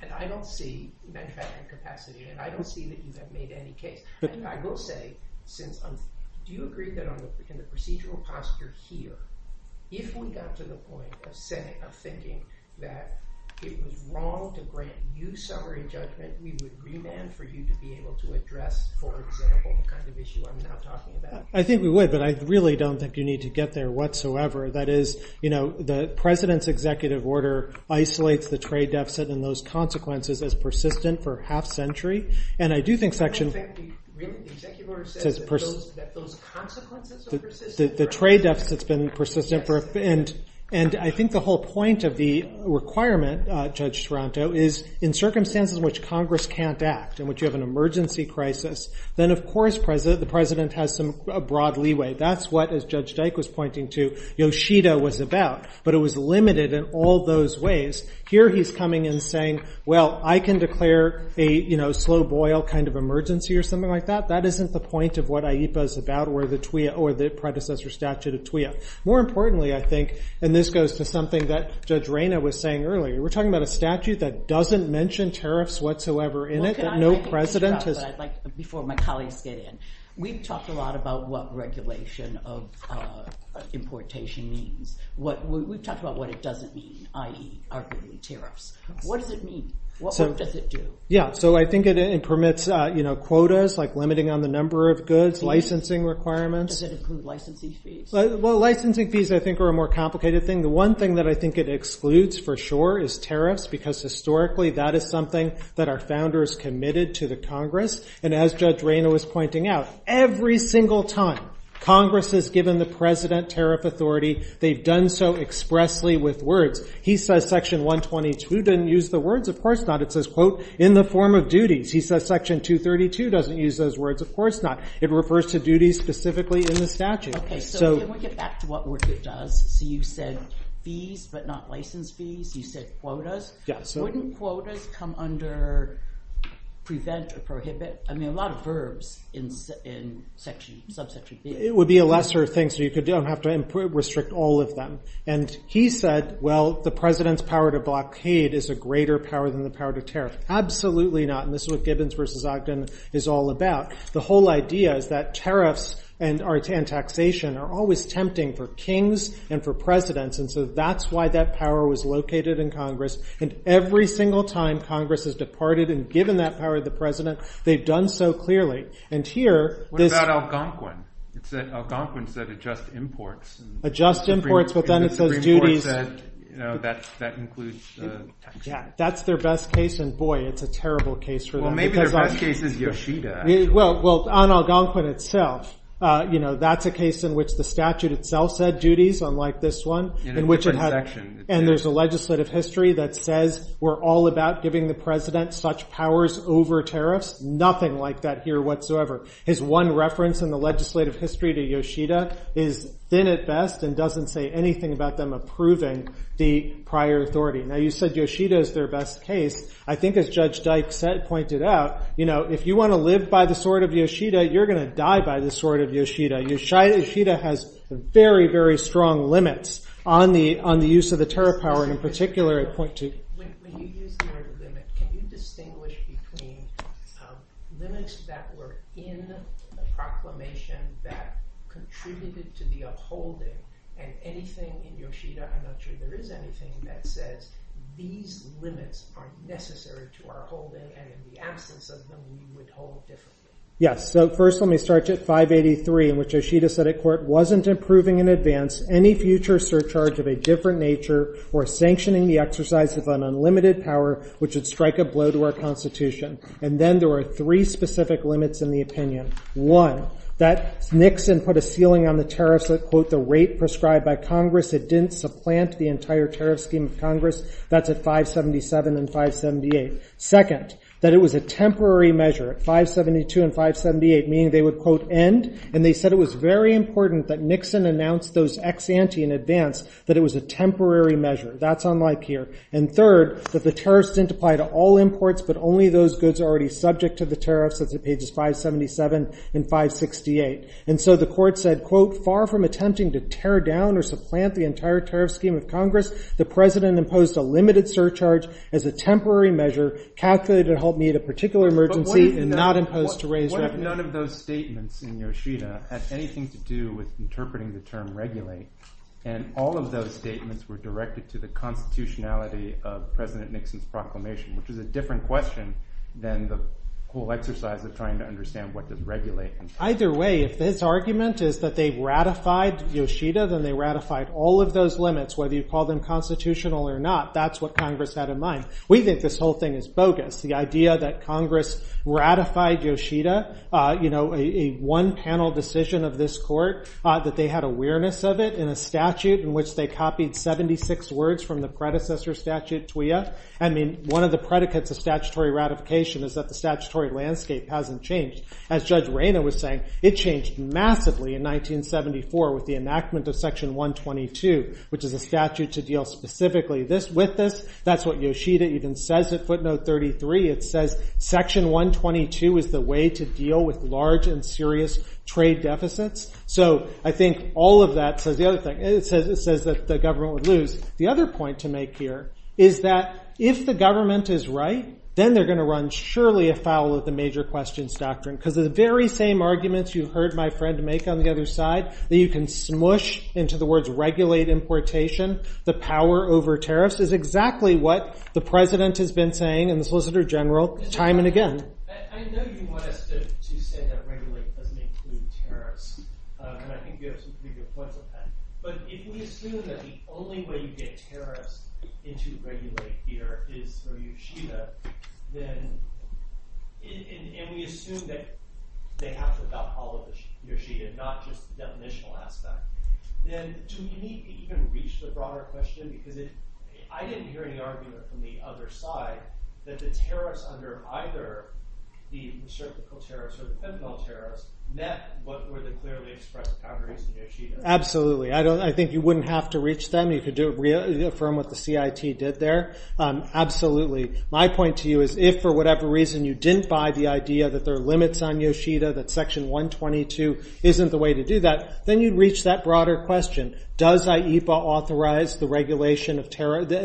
and I don't see manufacturing capacity, and I don't see that you have made any case. I will say, since you agree that I'm in a procedural posture here, if we got to the point of thinking that it was wrong to grant you summary judgment, do you think that we would remand for you to be able to address for example any kind of issue I'm not talking about? I think we would, but I really don't think you need to get there whatsoever. That is, the president's executive order isolates the trade deficit and those consequences as persistent for half a century, and I do think section... The executive order says that those consequences are persistent. The trade deficit's been persistent, and I think the whole point of the requirement, Judge Stronto, is in circumstances in which Congress can't act, in which you have an emergency crisis, then of course the president has some broad leeway. That's what, as Judge Dyke was pointing to, Yoshida was about, but it was limited in all those ways. Here he's coming and saying, well, I can declare a slow boil kind of emergency or something like that. That isn't the point of what AIPA's about or the predecessor statute of TWA. More importantly, I think, and this goes to something that Judge Reyna was saying earlier, we're talking about a statute that doesn't mention tariffs whatsoever in it. No precedent. Before my colleagues get in, we've talked a lot about what regulation of importation means. We've talked about what it doesn't mean, i.e., arguably tariffs. What does it mean? What does it do? Yeah, so I think it permits quotas, like limiting on the number of goods, licensing requirements. Does it include licensing fees? Well, licensing fees, I think, are a more complicated thing. The one thing that I think it excludes for sure is tariffs because historically that is something that our founders committed to the Congress, and as Judge Reyna was pointing out, every single time Congress has given the president tariff authority, they've done so expressly with words. He says Section 122 doesn't use the words. Of course not. It says, quote, in the form of duties. He says Section 232 doesn't use those words. Of course not. It refers to duties specifically in the statute. OK, so then we'll get back to what it does. So you said fees, but not license fees. You said quotas. Yes. Wouldn't quotas come under prevent or prohibit? I mean, a lot of verbs in subsection 3. It would be a lesser thing. So you don't have to restrict all of them. And he said, well, the president's power to block paid is a greater power than the power to tariff. Absolutely not. And this is what Gibbons versus Ogden is all about. The whole idea is that tariffs and taxation are always tempting for kings and for presidents. And so that's why that power was located in Congress. And every single time Congress has departed and given that power to the president, they've done so clearly. What about Algonquin? Algonquin said adjust imports. Adjust imports, but then it says duties. And the Supreme Court said that includes taxation. Yeah, that's their best case. And boy, it's a terrible case for them. Maybe their best case is Yoshida. Well, on Algonquin itself, that's a case in which the statute itself said duties, unlike this one. And there's a legislative history that says we're all about giving the president such powers over tariffs. Nothing like that here whatsoever. His one reference in the legislative history to Yoshida has been at best and doesn't say anything about them approving the prior authority. Now, you said Yoshida is their best case. I think as Judge Dykes said, pointed out, if you want to live by the sword of Yoshida, you're going to die by the sword of Yoshida. Yoshida has very, very strong limits on the use of the tariff power, in particular at point 2. When you use the word limit, can you distinguish between limits that were in the proclamation that contributed to the upholding and anything in Yoshida? I'm not sure there is anything that says these limits are necessary to uphold them and in the absence of them, you would hold them different. Yes, so first let me start at 583, in which Yoshida said a court wasn't approving in advance any future surcharge of a different nature or sanctioning the exercise of an unlimited power which would strike a blow to our Constitution. And then there were three specific limits in the opinion. One, that Nixon put a ceiling on the tariffs at, quote, the rate prescribed by Congress that didn't supplant the entire tariff scheme of Congress. That's at 577 and 578. Second, that it was a temporary measure at 572 and 578, meaning they would, quote, end. And they said it was very important that Nixon announced those ex ante in advance, that it was a temporary measure. That's unlike here. And third, that the tariffs didn't apply to all imports, but only those goods already subject to the tariffs at pages 577 and 568. And so the court said, quote, far from attempting to tear down or supplant the entire tariff scheme of Congress, the president imposed a limited surcharge as a temporary measure calculated to help meet a particular emergency and not imposed to raise revenue. None of those statements in Yoshida had anything to do with interpreting the term regulate. And all of those statements were directed to the constitutionality of President Nixon's proclamation, which is a different question than the whole exercise of trying to understand what does regulate mean. Either way, if his argument is that they've ratified Yoshida, then they ratified all of those limits, whether you call them constitutional or not. That's what Congress had in mind. We think this whole thing is bogus. The idea that Congress ratified Yoshida, a one-panel decision of this court, that they had awareness of it in a statute in which they copied 76 words from the predecessor statute, TWAIA. I mean, one of the predicates of statutory ratification is that the statutory landscape hasn't changed. As Judge Rayner was saying, it changed massively in 1974 with the enactment of Section 122, which is a statute to deal specifically with this. That's what Yoshida even says at footnote 33. It says, Section 122 is the way to deal with large and serious trade deficits. So I think all of that says the other thing. It says that the government would lose. The other point to make here is that if the government is right, then they're going to run surely afoul of the major questions doctrine. Because of the very same arguments you heard my friend make on the other side, that you can smoosh into the words regulate importation, the power over tariffs, is exactly what the President has been saying and the Solicitor General time and again. I know you wanted to say that regulate doesn't include tariffs. And I think you have some pretty good point with that. But if we assume that the only way you get tariffs into regulate here is through Yoshida, and we assume that they have to abolish Yoshida, not just the definitional aspect, then do we need to even reach the broader question? Because I didn't hear any argument from the other side that the tariffs under either the co-tariffs or the criminal tariffs met what were the clearly expressed boundaries of Yoshida. Absolutely. I think you wouldn't have to reach them. You could reaffirm what the CIT did there. Absolutely. My point to you is if for whatever reason you didn't buy the idea that there are limits on Yoshida, that section 122 isn't the way to do that, then you'd reach that broader question. Does IEFA authorize the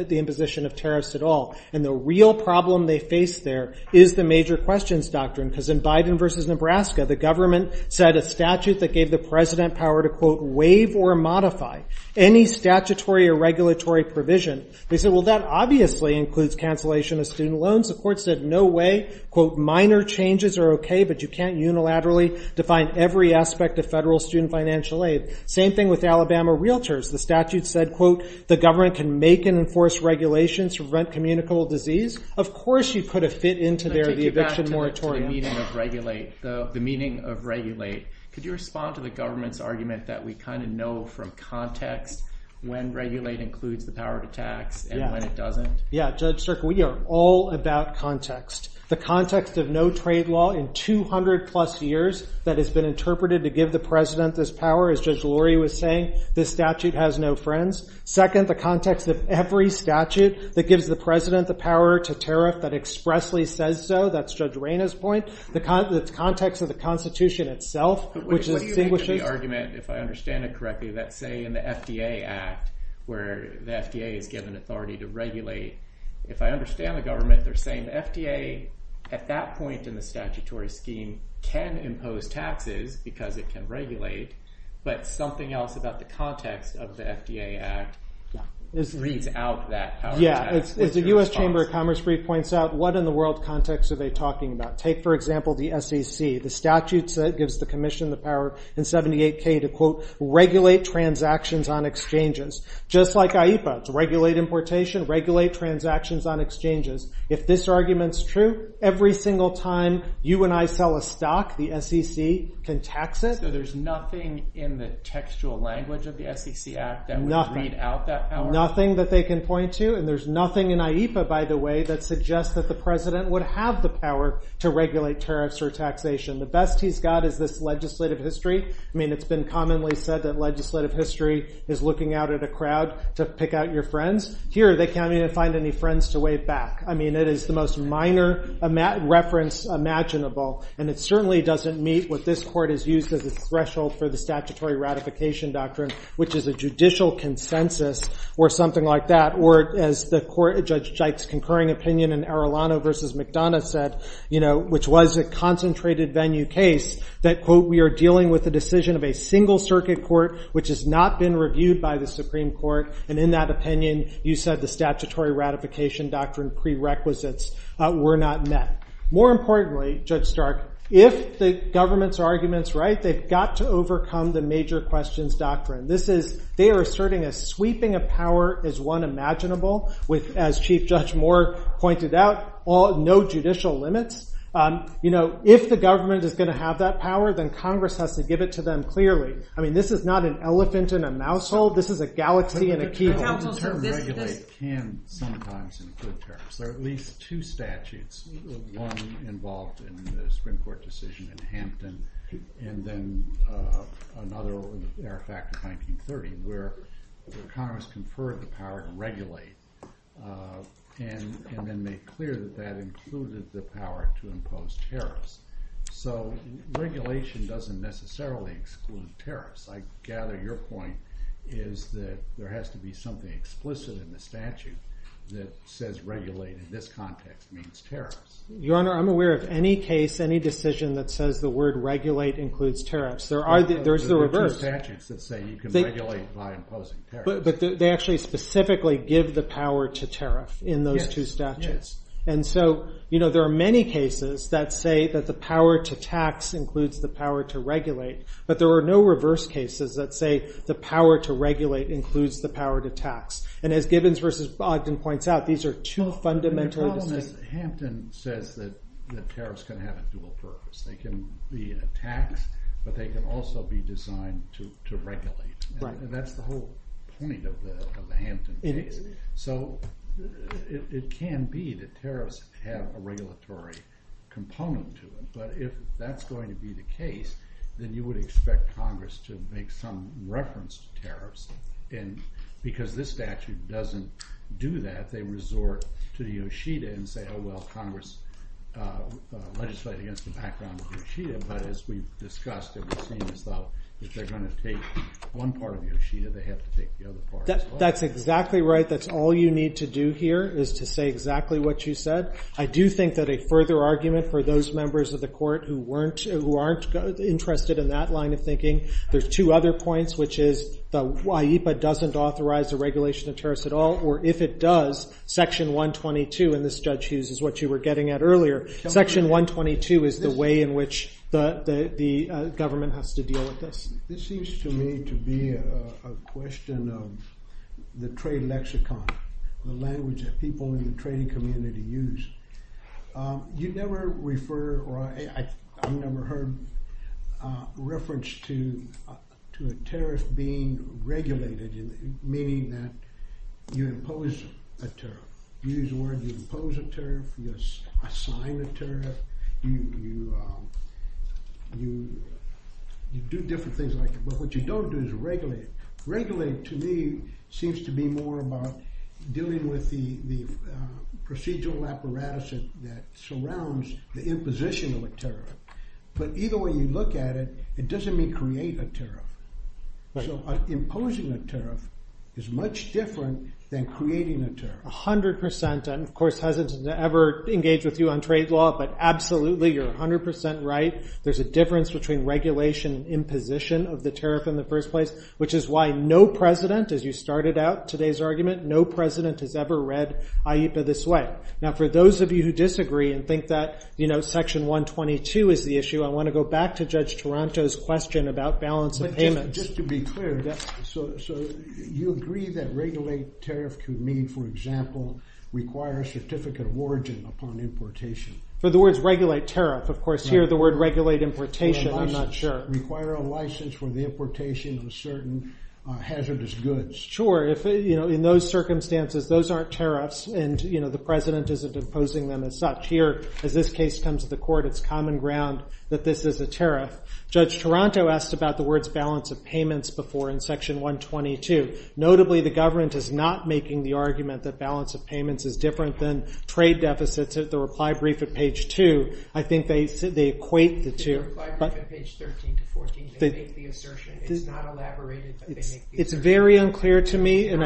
imposition of tariffs at all? And the real problem they face there is the major questions doctrine. Because in Biden versus Nebraska, the government set a statute that gave the President power to, quote, waive or modify any statutory or regulatory provision. They said, well, that obviously includes cancellation of student loans. The court said, no way. Quote, minor changes are okay, but you can't unilaterally define every aspect of federal student financial aid. Same thing with Alabama Realtors. The statute said, quote, the government can make and enforce regulations to prevent communicable disease. Of course you put a fit into there, the eviction moratorium. The meaning of regulate. Could you respond to the government's argument that we kind of know from context when regulate includes the power to tax and when it doesn't? Yeah, Judge Strickland, we are all about context. The context of no trade law in 200 plus years that has been interpreted to give the President this power, as Judge Lurie was saying, this statute has no friends. Second, the context of every statute that gives the President the power to tariff that expressly says so, that's Judge Reyna's point, the context of the Constitution itself, which is extinguishing. The only argument, if I understand it correctly, that say in the FDA Act where the FDA is given authority to regulate, if I understand the government, they're saying the FDA at that point in the statutory scheme can impose taxes because it can regulate, but something else about the context of the FDA Act reads out that. Yeah, if the U.S. Chamber of Commerce brief points out what in the world context are they talking about? Take, for example, the SEC. The statute that gives the Commission the power in 78K to, quote, regulate transactions on exchanges, just like IEFA, to regulate importation, regulate transactions on exchanges. If this argument's true, every single time you and I sell a stock, the SEC can tax it. So there's nothing in the textual language of the SEC Act that would read out that power? Nothing that they can point to, and there's nothing in IEFA, by the way, that suggests that the President would have the power to regulate tariffs or taxation. The best he's got is this legislative history. I mean, it's been commonly said that legislative history is looking out at a crowd to pick out your friends. Here, they can't even find any friends to wave back. I mean, it is the most minor reference imaginable, and it certainly doesn't meet what this Court has used as a threshold for the statutory ratification doctrine, which is a judicial consensus or something like that, or as the Court, Judge Jike's concurring opinion in Arellano v. McDonough said, which was a concentrated venue case, that, quote, we are dealing with the decision of a single circuit court which has not been reviewed by the Supreme Court, and in that opinion, you said the statutory ratification doctrine prerequisites were not met. More importantly, Judge Stark, if the government's argument's right, they've got to overcome the major questions doctrine. They are asserting a sweeping of power as one imaginable with, as Chief Judge Moore pointed out, no judicial limits. You know, if the government is going to have that power, then Congress has to give it to them clearly. I mean, this is not an elephant in a mouse hole. This is a galaxy in a key hole. The term regulate can sometimes include tariffs. There are at least two statutes, one involved in the Supreme Court decision in Hampton and then another in the Fairfax in 1930 where Congress conferred the power to regulate and then made clear that that included the power to impose tariffs. So regulation doesn't necessarily exclude tariffs. I gather your point is that there has to be something explicit in the statute that says regulate in this context means tariffs. Your Honor, I'm aware of any case, any decision that says the word regulate includes tariffs. There are two statutes that say you can regulate by imposing tariffs. But they actually specifically give the power to tariff in those two statutes. And so, you know, there are many cases that say that the power to tax includes the power to regulate, but there are no reverse cases that say the power to regulate includes the power to tax. And as Gibbons versus Bogdan points out, these are two fundamental… Hampton says that tariffs can have a dual purpose. They can be a tax, but they can also be designed to regulate. And that's the whole point of the Hampton case. So it can be that tariffs have a regulatory component to them, but if that's going to be the case, then you would expect Congress to make some reference to tariffs. And because this statute doesn't do that, they resort to the OSHEDA and say, oh, well, Congress legislated against the background of the OSHEDA. But as we've discussed and we've seen this out, if they're going to take one part of the OSHEDA, they have to take the other part as well. That's exactly right. That's all you need to do here is to say exactly what you said. I do think that a further argument for those members of the court who aren't interested in that line of thinking, there's two other points, which is the IEPA doesn't authorize the regulation of tariffs at all, or if it does, section 122 in this statute, which is what you were getting at earlier, section 122 is the way in which the government has to deal with this. This seems to me to be a question of the trade lexicon, the language that people in the trading community use. You never refer or I've never heard reference to a tariff being regulated, meaning that you impose a tariff. You use the word you impose a tariff, you assign a tariff, you do different things like that. But what you don't do is regulate. Regulate, to me, seems to be more about dealing with the procedural apparatus that surrounds the imposition of a tariff. But either way you look at it, it doesn't mean create a tariff. So imposing a tariff is much different than creating a tariff. A hundred percent. And of course, it doesn't ever engage with you on trade law, but absolutely you're a hundred percent right. There's a difference between regulation and imposition of the tariff in the first place, which is why no president, as you started out today's argument, no president has ever read AITA this way. Now for those of you who disagree and think that Section 122 is the issue, I want to go back to Judge Toronto's question about balance of payment. Just to be clear, so you agree that regulate tariff to me, for example, requires certificate of origin upon importation. But the word regulate tariff, of course, here the word regulate importation, I'm not sure. Require a license for the importation of certain hazardous goods. Sure, in those circumstances, those aren't tariffs, and the president isn't imposing them as such. Here, as this case comes to the court, it's common ground that this is a tariff. Judge Toronto asked about the words balance of payments before in Section 122. Notably, the government is not making the argument that balance of payments is different than trade deficits at the reply brief at page 2. I think they equate the two. The reply brief at page 13 to 14, they make the assertion. It's not elaborated, but they make the assertion. It's very unclear to me. I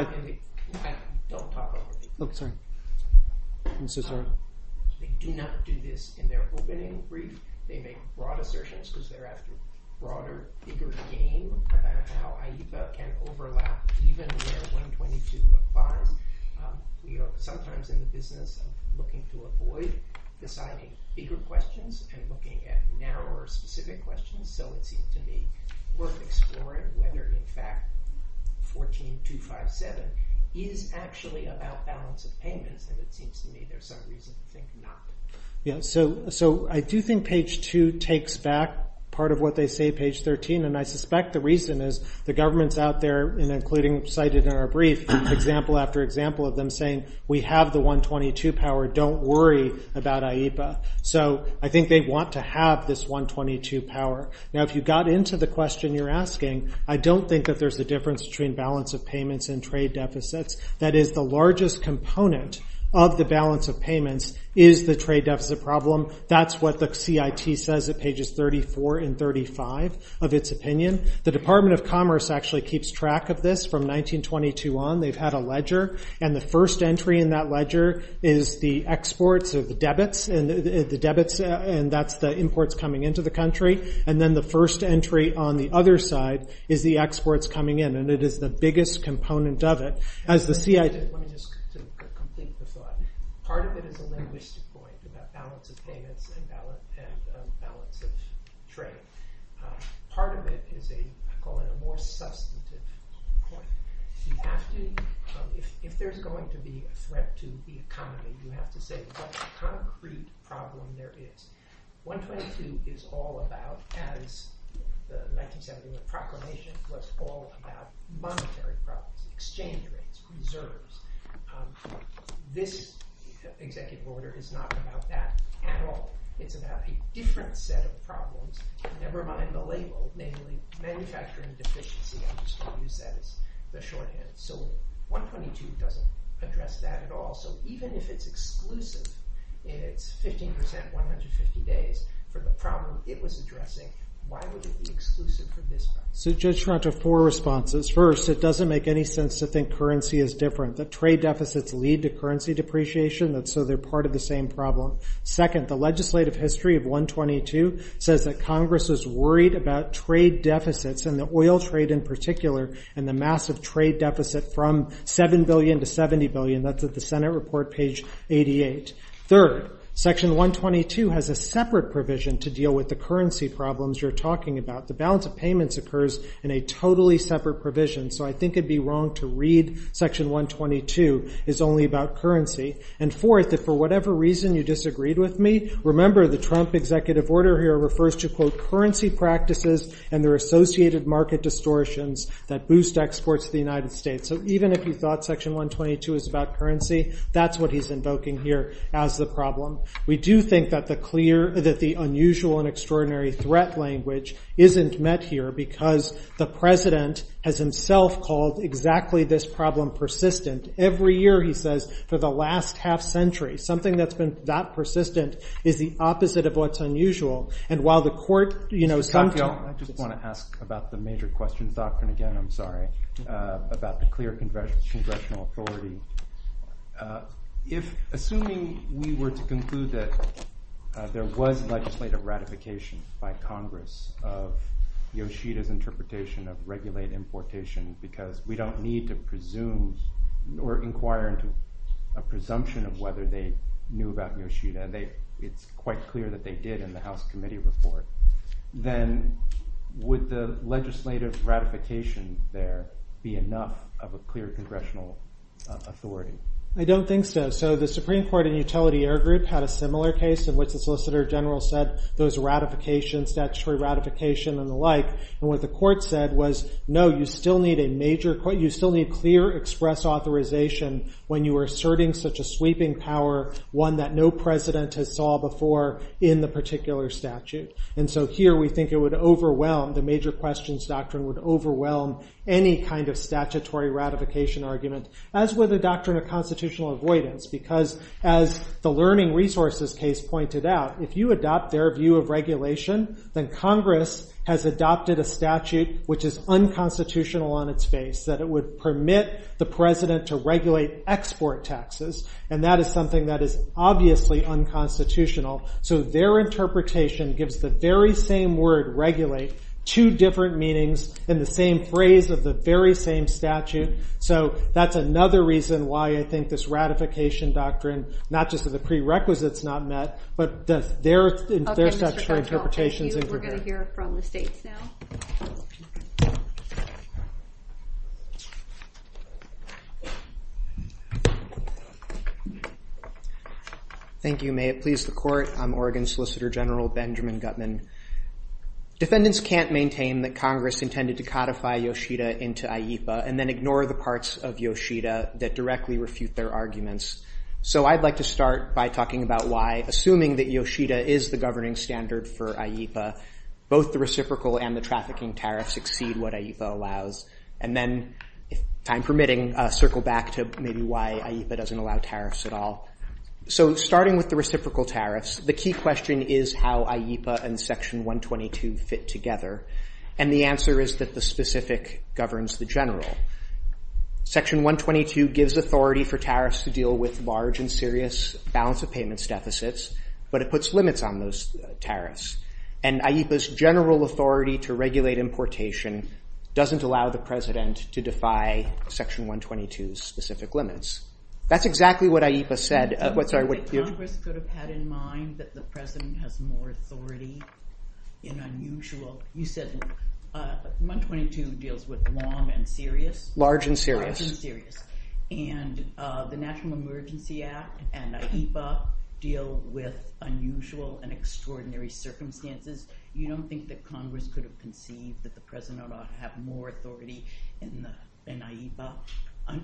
don't talk about it. Okay. I'm so sorry. They do not do this in their opening brief. They make broad assertions because they're asking broader, bigger game about how IEFA can overlap even their 122 fine. We are sometimes in the business of looking for a void, deciding bigger questions and looking at narrower, specific questions. It seems to be worth exploring whether, in fact, 14.257 is actually about balance of payments, because it seems to me there's some reason to think not. Yes. I do think page 2 takes back part of what they say page 13, and I suspect the reason is the government's out there, including cited in our brief, example after example of them saying, we have the 122 power. Don't worry about IEFA. I think they want to have this 122 power. Now, if you got into the question you're asking, I don't think that there's a difference between balance of payments and trade deficits. That is, the largest component of the balance of payments is the trade deficit problem. That's what the CIT says at pages 34 and 35 of its opinion. The Department of Commerce actually keeps track of this from 1922 on. They've had a ledger, and the first entry in that ledger is the exports of the debits, and that's the imports coming into the country. And then the first entry on the other side is the exports coming in, and it is the biggest component of it. Let me just complete the thought. Part of it is a linguistic point about balance of payments and balance of trade. Part of it is a more substantive point. If there's going to be a threat to the economy, you have to say what the concrete problem there is. 122 is all about, as the 1970 proclamation was all about, monetary problems, exchange rates, reserves. This executive order is not about that at all. It's about a different set of problems, never mind the label, namely manufacturing deficiencies. So 122 doesn't address that at all. So even if it's exclusive, and it's 15%, 150 days, for the problem it was addressing, why would it be exclusive for this time? So just to answer four responses. First, it doesn't make any sense to think currency is different. The trade deficits lead to currency depreciation, and so they're part of the same problem. Second, the legislative history of 122 says that Congress is worried about trade deficits, and the oil trade in particular, and the massive trade deficit from $7 billion to $70 billion. That's at the Senate Report, page 88. Third, section 122 has a separate provision to deal with the currency problems you're talking about. The balance of payments occurs in a totally separate provision, so I think it would be wrong to read section 122 as only about currency. And fourth, if for whatever reason you disagreed with me, remember the Trump executive order here refers to, quote, currency practices and their associated market distortions that boost exports to the United States. So even if you thought section 122 was about currency, that's what he's invoking here as the problem. We do think that the clear, that the unusual and extraordinary threat language isn't met here because the president has himself called exactly this problem persistent. Every year he says, for the last half century, something that's been that persistent is the opposite of what's unusual. I just want to ask about the major question, doctrine again, I'm sorry, about the clear congressional authority. Assuming we were to conclude that there was legislative ratification by Congress of Yoshida's interpretation of regulated importation because we don't need to presume or inquire into a presumption of whether they knew about Yoshida. It's quite clear that they did in the House Committee report. Then would the legislative ratification there be enough of a clear congressional authority? I don't think so. So the Supreme Court in Utility Air Group had a similar case in which the Solicitor General said those ratifications, statutory ratification and the like, and what the court said was, no, you still need a major, you still need clear express authorization when you are asserting such a sweeping power, one that no president has saw before in the particular statute. And so here we think it would overwhelm, the major questions doctrine would overwhelm any kind of statutory ratification argument as with the doctrine of constitutional avoidance because as the learning resources case pointed out, if you adopt their view of regulation, then Congress has adopted a statute which is unconstitutional on its face, that it would permit the president to regulate export taxes, and that is something that is obviously unconstitutional. So their interpretation gives the very same word regulate two different meanings in the same phrase of the very same statute. So that's another reason why I think this ratification doctrine, not just that the prerequisites not met, but that their statutory interpretation is incorrect. We're going to hear from the states now. Thank you. May it please the court. I'm Oregon Solicitor General Benjamin Gutman. Defendants can't maintain that Congress intended to codify Yoshida into IEPA and then ignore the parts of Yoshida that directly refute their arguments. So I'd like to start by talking about why, assuming that Yoshida is the governing standard for IEPA, both the reciprocal and the trafficking tariffs exceed what IEPA allows. And then, if time permitting, circle back to maybe why IEPA doesn't allow tariffs at all. So starting with the reciprocal tariffs, the key question is how IEPA and Section 122 fit together. And the answer is that the specific governs the general. Section 122 gives authority for tariffs to deal with large and serious balance of payments deficits, but it puts limits on those tariffs. And IEPA's general authority to regulate importation doesn't allow the president to defy Section 122's specific limits. That's exactly what IEPA said. Let's start with you. Congress could have had in mind that the president has more authority in unusual... You said 122 deals with long and serious. Large and serious. And the National Emergency Act and IEPA deal with unusual and extraordinary circumstances. You don't think that Congress could have contained that the president ought to have more authority in IEPA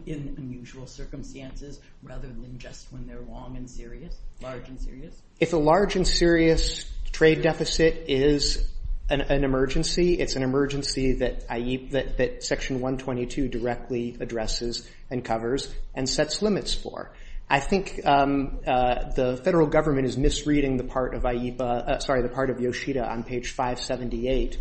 in unusual circumstances rather than just when they're long and serious? Large and serious? If a large and serious trade deficit is an emergency, it's an emergency that Section 122 directly addresses and covers and sets limits for. I think the federal government is misreading the part of IEPA... Sorry, the part of Yoshida on page 578.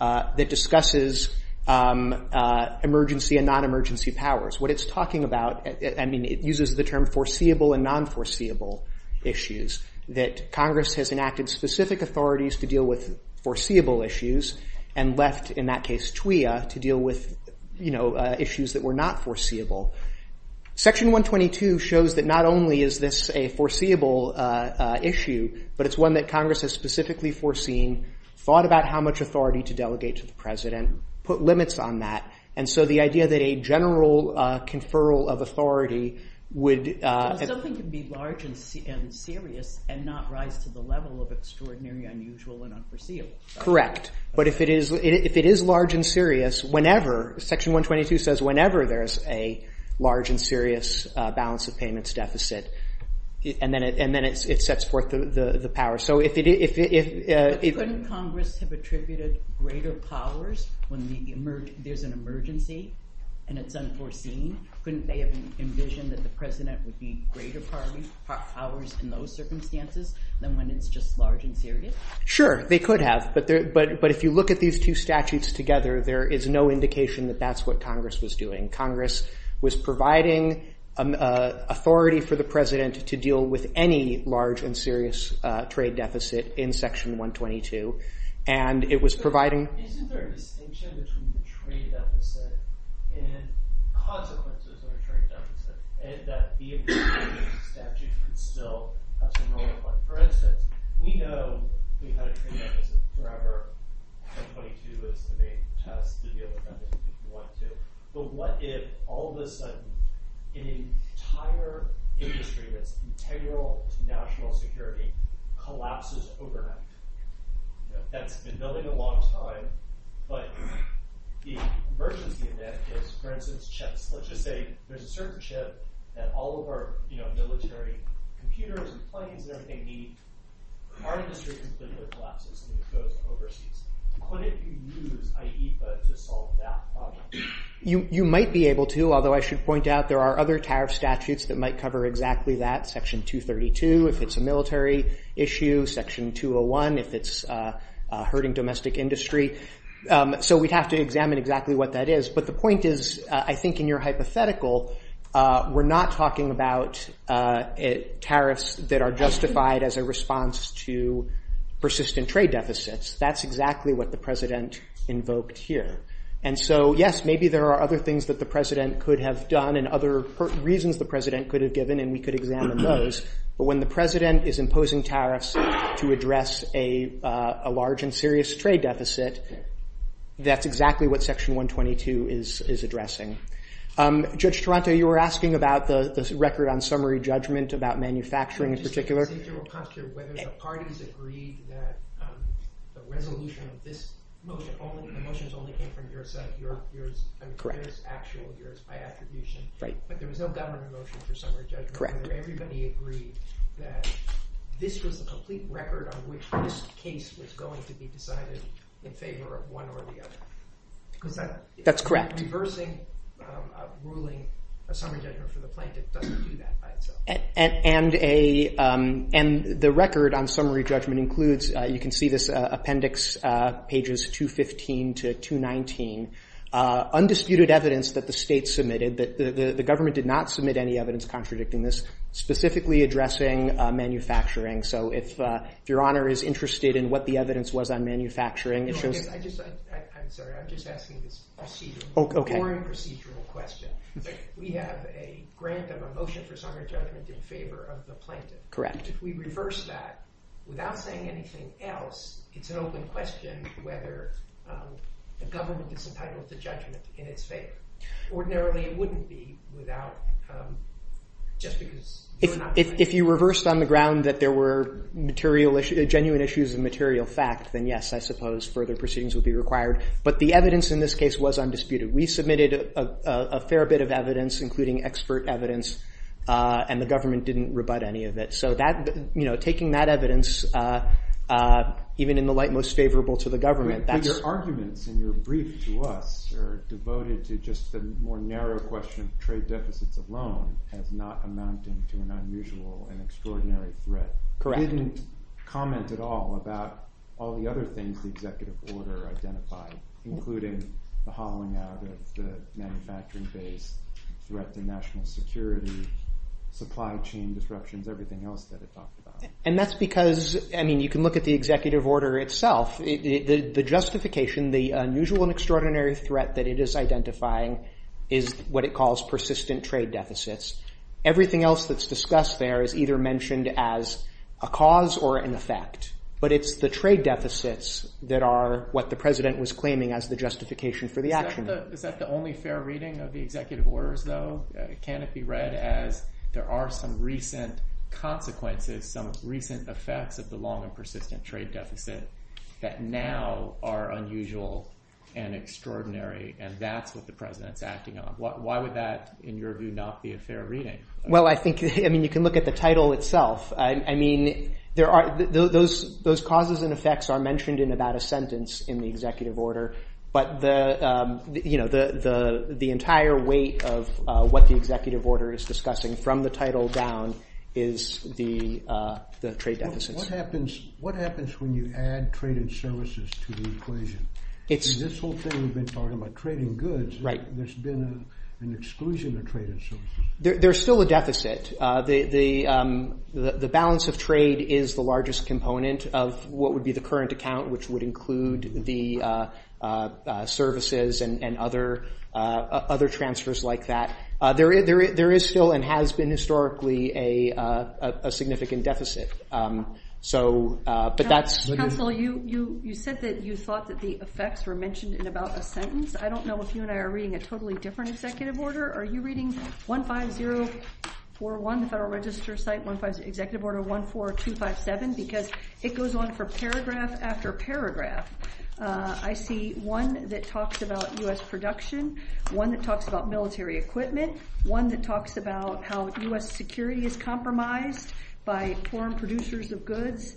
That discusses emergency and non-emergency powers. What it's talking about... I mean, it uses the term foreseeable and non-foreseeable issues. That Congress has enacted specific authorities to deal with foreseeable issues and left, in that case, TWA to deal with issues that were not foreseeable. Section 122 shows that not only is this a foreseeable issue, but it's one that Congress has specifically foreseen, thought about how much authority to delegate to the president, put limits on that, and so the idea that a general conferral of authority would... Something could be large and serious and not rise to the level of extraordinary, unusual, and unforeseeable. Correct. But if it is large and serious, whenever... Section 122 says whenever there's a large and serious balance of payments deficit, and then it sets forth the power. Couldn't Congress have attributed greater powers when there's an emergency and it's unforeseen? Couldn't they have envisioned that the president would be greater powers in those circumstances than when it's just large and serious? Sure, they could have, but if you look at these two statutes together, there is no indication that that's what Congress was doing. Congress was providing authority for the president to deal with any large and serious trade deficit in Section 122, and it was providing... Isn't there a distinction between the trade deficit and the consequences of the trade deficit? And that being... For instance, we know we've had a trade deficit forever. But what if, all of a sudden, an entire industry of integral national security collapses overnight? That has been going a long time, but the version of the event is, for instance, let's just say there's a certain shift that all of our military computers and funding that they need are distributed to the collapses when it goes overseas. What if you use IEFA to solve that problem? You might be able to, although I should point out there are other tariff statutes that might cover exactly that. If it's a military issue, Section 201, if it's hurting domestic industry. So we'd have to examine exactly what that is. But the point is, I think in your hypothetical, we're not talking about tariffs that are justified as a response to persistent trade deficits. That's exactly what the president invoked here. And so, yes, maybe there are other things that the president could have done and other reasons the president could have given, and we could examine those. But when the president is imposing tariffs to address a large and serious trade deficit, that's exactly what Section 122 is addressing. Judge Taranto, you were asking about the record on summary judgment, about manufacturing in particular. Did you consider whether the parties agreed that the resolution of this motion, the motion that only came from your side, your actual, your attribution, that there was no government motion for summary judgment? Everybody agreed that this was a complete record on which this case was going to be decided in favor of one or the other. Correct? That's correct. Reversing a ruling, a summary judgment for the plaintiff doesn't do that by itself. And the record on summary judgment includes, you can see this appendix, pages 215 to 219, undisputed evidence that the state submitted that the government did not submit any evidence contradicting this, specifically addressing manufacturing. So if Your Honor is interested in what the evidence was on manufacturing issues... I'm sorry, I'm just asking a procedural question. We have a grant of a motion for summary judgment in favor of the plaintiff. Correct. If we reverse that, without saying anything else, it's an open question whether the government is entitled to judgment in its favor. Ordinarily, it wouldn't be without just because... If you reversed on the ground that there were genuine issues of material fact, then yes, I suppose further proceedings would be required. But the evidence in this case was undisputed. We submitted a fair bit of evidence, including expert evidence, and the government didn't rebut any of it. So taking that evidence, even in the light most favorable to the government... But your arguments and your briefs, Your Honor, are devoted to just the more narrow question of trade deficits alone as not amounting to an unusual and extraordinary threat. Correct. You didn't comment at all about all the other things the executive order identified, including the hollowing out of the manufacturing base, the threat to national security, supply chain disruptions, everything else that it talks about. And that's because, I mean, you can look at the executive order itself. The justification, the unusual and extraordinary threat that it is identifying is what it calls persistent trade deficits. Everything else that's discussed there is either mentioned as a cause or an effect. But it's the trade deficits that are what the president was claiming as the justification for the action. Is that the only fair reading of the executive orders, though? Can it be read as there are some recent consequences, some recent effects of the long and persistent trade deficit? That now are unusual and extraordinary, and that's what the president's acting on. Why would that, in your view, not be a fair reading? Well, I think, I mean, you can look at the title itself. I mean, there are, those causes and effects are mentioned in about a sentence in the executive order. But the, you know, the entire weight of what the executive order is discussing from the title down is the trade deficits. What happens when you add traded services to the equation? In this whole thing we've been talking about trading goods, there's been an exclusion of traded services. There's still a deficit. The balance of trade is the largest component of what would be the current account, which would include the services and other transfers like that. There is still and has been historically a significant deficit. So, but that's... Counsel, you said that you thought that the effects were mentioned in about a sentence. I don't know if you and I are reading a totally different executive order. Are you reading 15041, the Federal Register site, 15, Executive Order 14257? Because it goes on for paragraph after paragraph. I see one that talks about U.S. production, one that talks about military equipment, one that talks about how U.S. security is compromised by foreign producers of goods,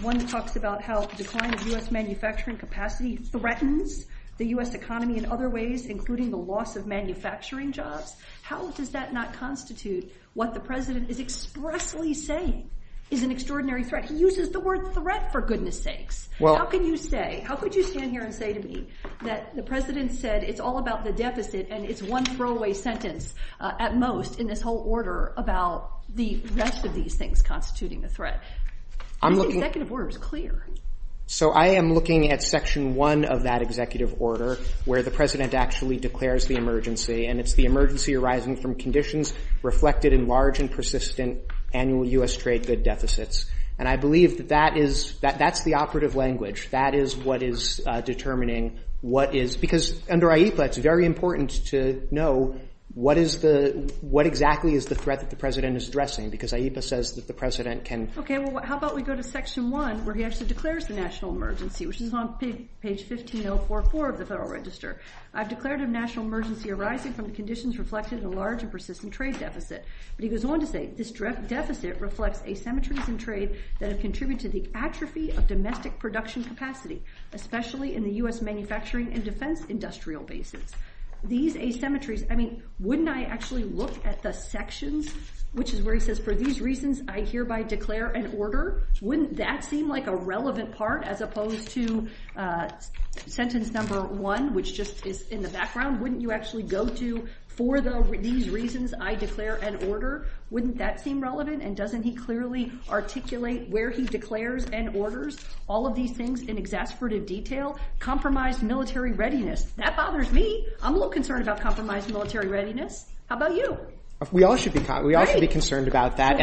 one that talks about how the decline of U.S. manufacturing capacity threatens the U.S. economy in other ways, including the loss of manufacturing jobs. How does that not constitute what the president is expressly saying is an extraordinary threat? He uses the word threat for goodness sakes. How can you say, how could you stand here and say to me that the president said it's all about the deficit and it's one throwaway sentence at most in this whole order about the rest of these things constituting the threat? The executive order is clear. So I am looking at section one of that executive order where the president actually declares the emergency and it's the emergency arising from conditions reflected in large and persistent annual U.S. trade good deficits. And I believe that that's the operative language. That is what is determining what is, because under AIPA it's very important to know what exactly is the threat that the president is addressing because AIPA says that the president can. Okay, well how about we go to section one where he actually declares the national emergency which is on page 15044 of the Federal Register. I've declared a national emergency arising from the conditions reflected in the large and persistent trade deficit. But he goes on to say, this deficit reflects asymmetries in trade that have contributed to the atrophy of domestic production capacity, especially in the U.S. manufacturing and defense industrial bases. These asymmetries, I mean, wouldn't I actually look at the sections which is where he says, for these reasons I hereby declare an order? Wouldn't that seem like a relevant part as opposed to sentence number one which just is in the background? Wouldn't you actually go to, for these reasons I declare an order? Wouldn't that seem relevant? And doesn't he clearly articulate where he declares and orders all of these things in exasperated detail? Compromised military readiness. That bothers me. I'm a little concerned about compromised military readiness. How about you? We all should be. We all should be concerned about that.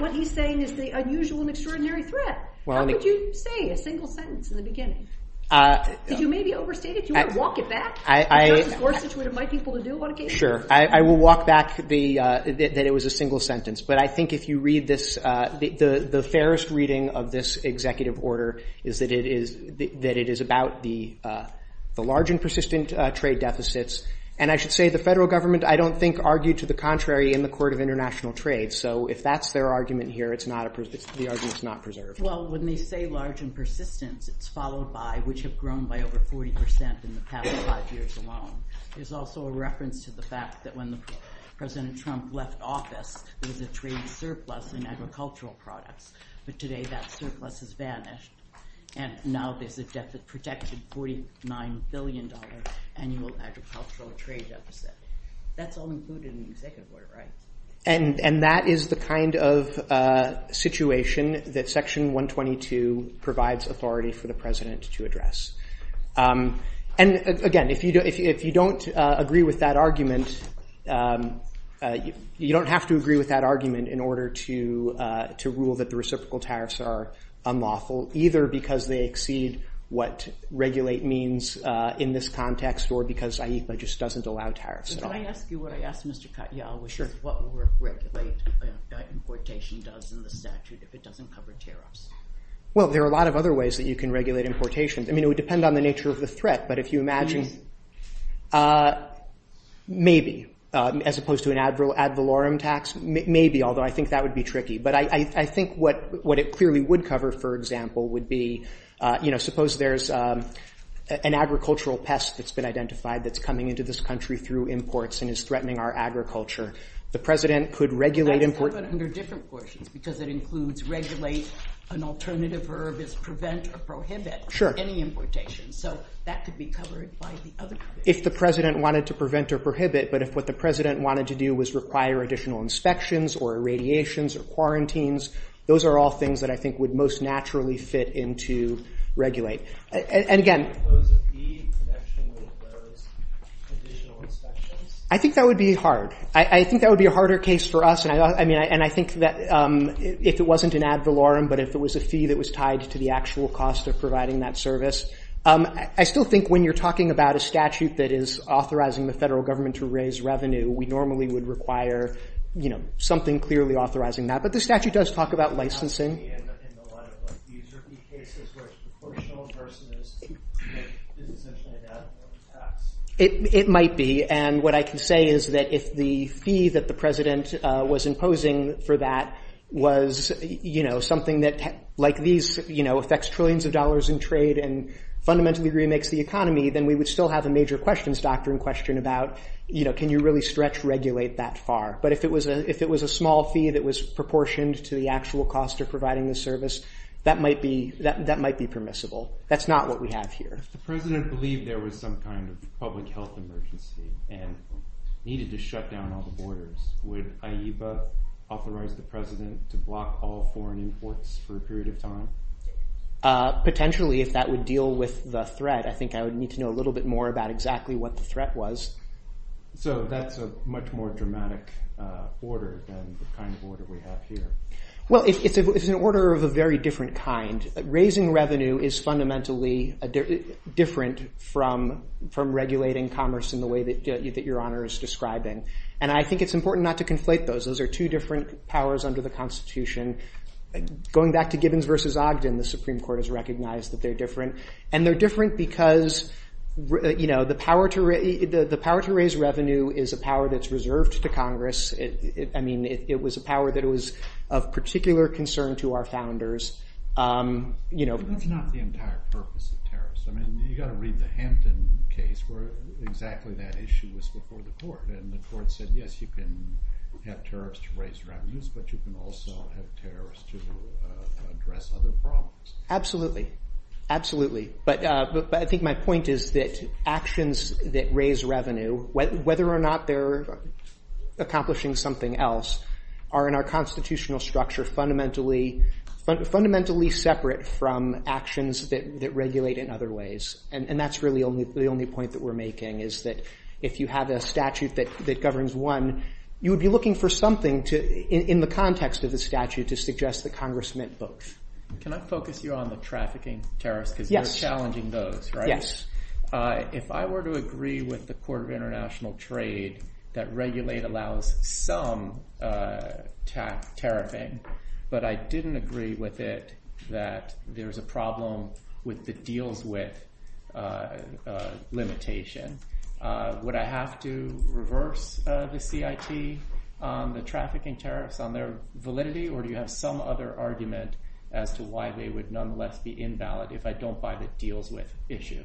What he's saying is the unusual and extraordinary threat. How would you say a single sentence in the beginning? If you may be overstated, do you want to walk it back? Of course, this is what I invite people to do on occasion. Sure, I will walk back that it was a single sentence. But I think if you read this, the fairest reading of this executive order is that it is about the large and persistent trade deficits. And I should say, the federal government, I don't think, argued to the contrary in the Court of International Trade. So if that's their argument here, the argument's not preserved. Well, when they say large and persistent, it's followed by, which have grown by over 40% in the past five years alone. There's also a reference to the fact that when President Trump left office, there was a trade surplus in agricultural products. But today that surplus has vanished. And now there's just a projected $49 billion annual agricultural trade deficit. That's all included in the executive order, right? And that is the kind of situation that Section 122 provides authority for the President to address. And again, if you don't agree with that argument, you don't have to agree with that argument in order to rule that the reciprocal tariffs are unlawful, either because they exceed what regulate means in this context, or because IEFA just doesn't allow tariffs. Can I ask you what I asked Mr. Katyal? What would regulate importation does in the statute if it doesn't cover tariffs? Well, there are a lot of other ways that you can regulate importation. I mean, it would depend on the nature of the threat. But if you imagine, maybe, as opposed to an ad valorem tax, maybe, although I think that would be tricky. But I think what it clearly would cover, for example, would be, suppose there's an agricultural pest that's been identified that's coming into this country through imports and is threatening our agriculture. The President could regulate import... It could cover under different portions, because it includes regulate, an alternative verb is prevent or prohibit any importation. So that could be covered by the other... If the President wanted to prevent or prohibit, but if what the President wanted to do was require additional inspections or irradiations or quarantines, those are all things that I think would most naturally fit into regulate. And again... Suppose a fee protection would cover additional inspections? I think that would be hard. I think that would be a harder case for us. And I think that if it wasn't an ad valorem, but if it was a fee that was tied to the actual cost of providing that service. I still think when you're talking about a statute that is authorizing the federal government to raise revenue, we normally would require something clearly authorizing that. But the statute does talk about licensing. It might be, and what I can say is that if the fee that the President was imposing for that was something that, like these, affects trillions of dollars in trade and fundamentally remakes the economy, then we would still have a major questions doctrine question about can you really stretch regulate that far? But if it was a small fee that was proportioned to the actual cost of providing the service, that might be permissible. That's not what we have here. If the President believed there was some kind of public health emergency and needed to shut down all the borders, would IEBA authorize the President to block all foreign imports for a period of time? Potentially, if that would deal with the threat, I think I would need to know a little bit more about exactly what the threat was. So that's a much more dramatic order than the kind of order we have here. Well, it's an order of a very different kind. Raising revenue is fundamentally different from regulating commerce in the way that Your Honor is describing. And I think it's important not to conflate those. Those are two different powers under the Constitution. Going back to Gibbons versus Ogden, the Supreme Court has recognized that they're different. And they're different because the power to raise revenue is a power that's reserved to Congress. It was a power that was of particular concern to our founders. That's not the entire purpose of tariffs. I mean, you gotta read the Hampton case where exactly that issue was before the court. And the court said, yes, you can have tariffs to raise revenues, but you can also have tariffs to address other problems. Absolutely, absolutely. But I think my point is that actions that raise revenue, whether or not they're accomplishing something else, are in our constitutional structure fundamentally separate from actions that regulate in other ways. And that's really the only point that we're making is that if you have a statute that governs one, you would be looking for something in the context of the statute to suggest that Congress meant both. Can I focus you on the trafficking tariffs? Yes. Because you're challenging those, right? Yes. If I were to agree with the Port of International Trade that regulate allows some tax tariffing, but I didn't agree with it that there's a problem with the deals with limitation, would I have to reverse the CIT, the trafficking tariffs on their validity, or do you have some other argument as to why they would nonetheless be invalid if I don't buy the deals with issue?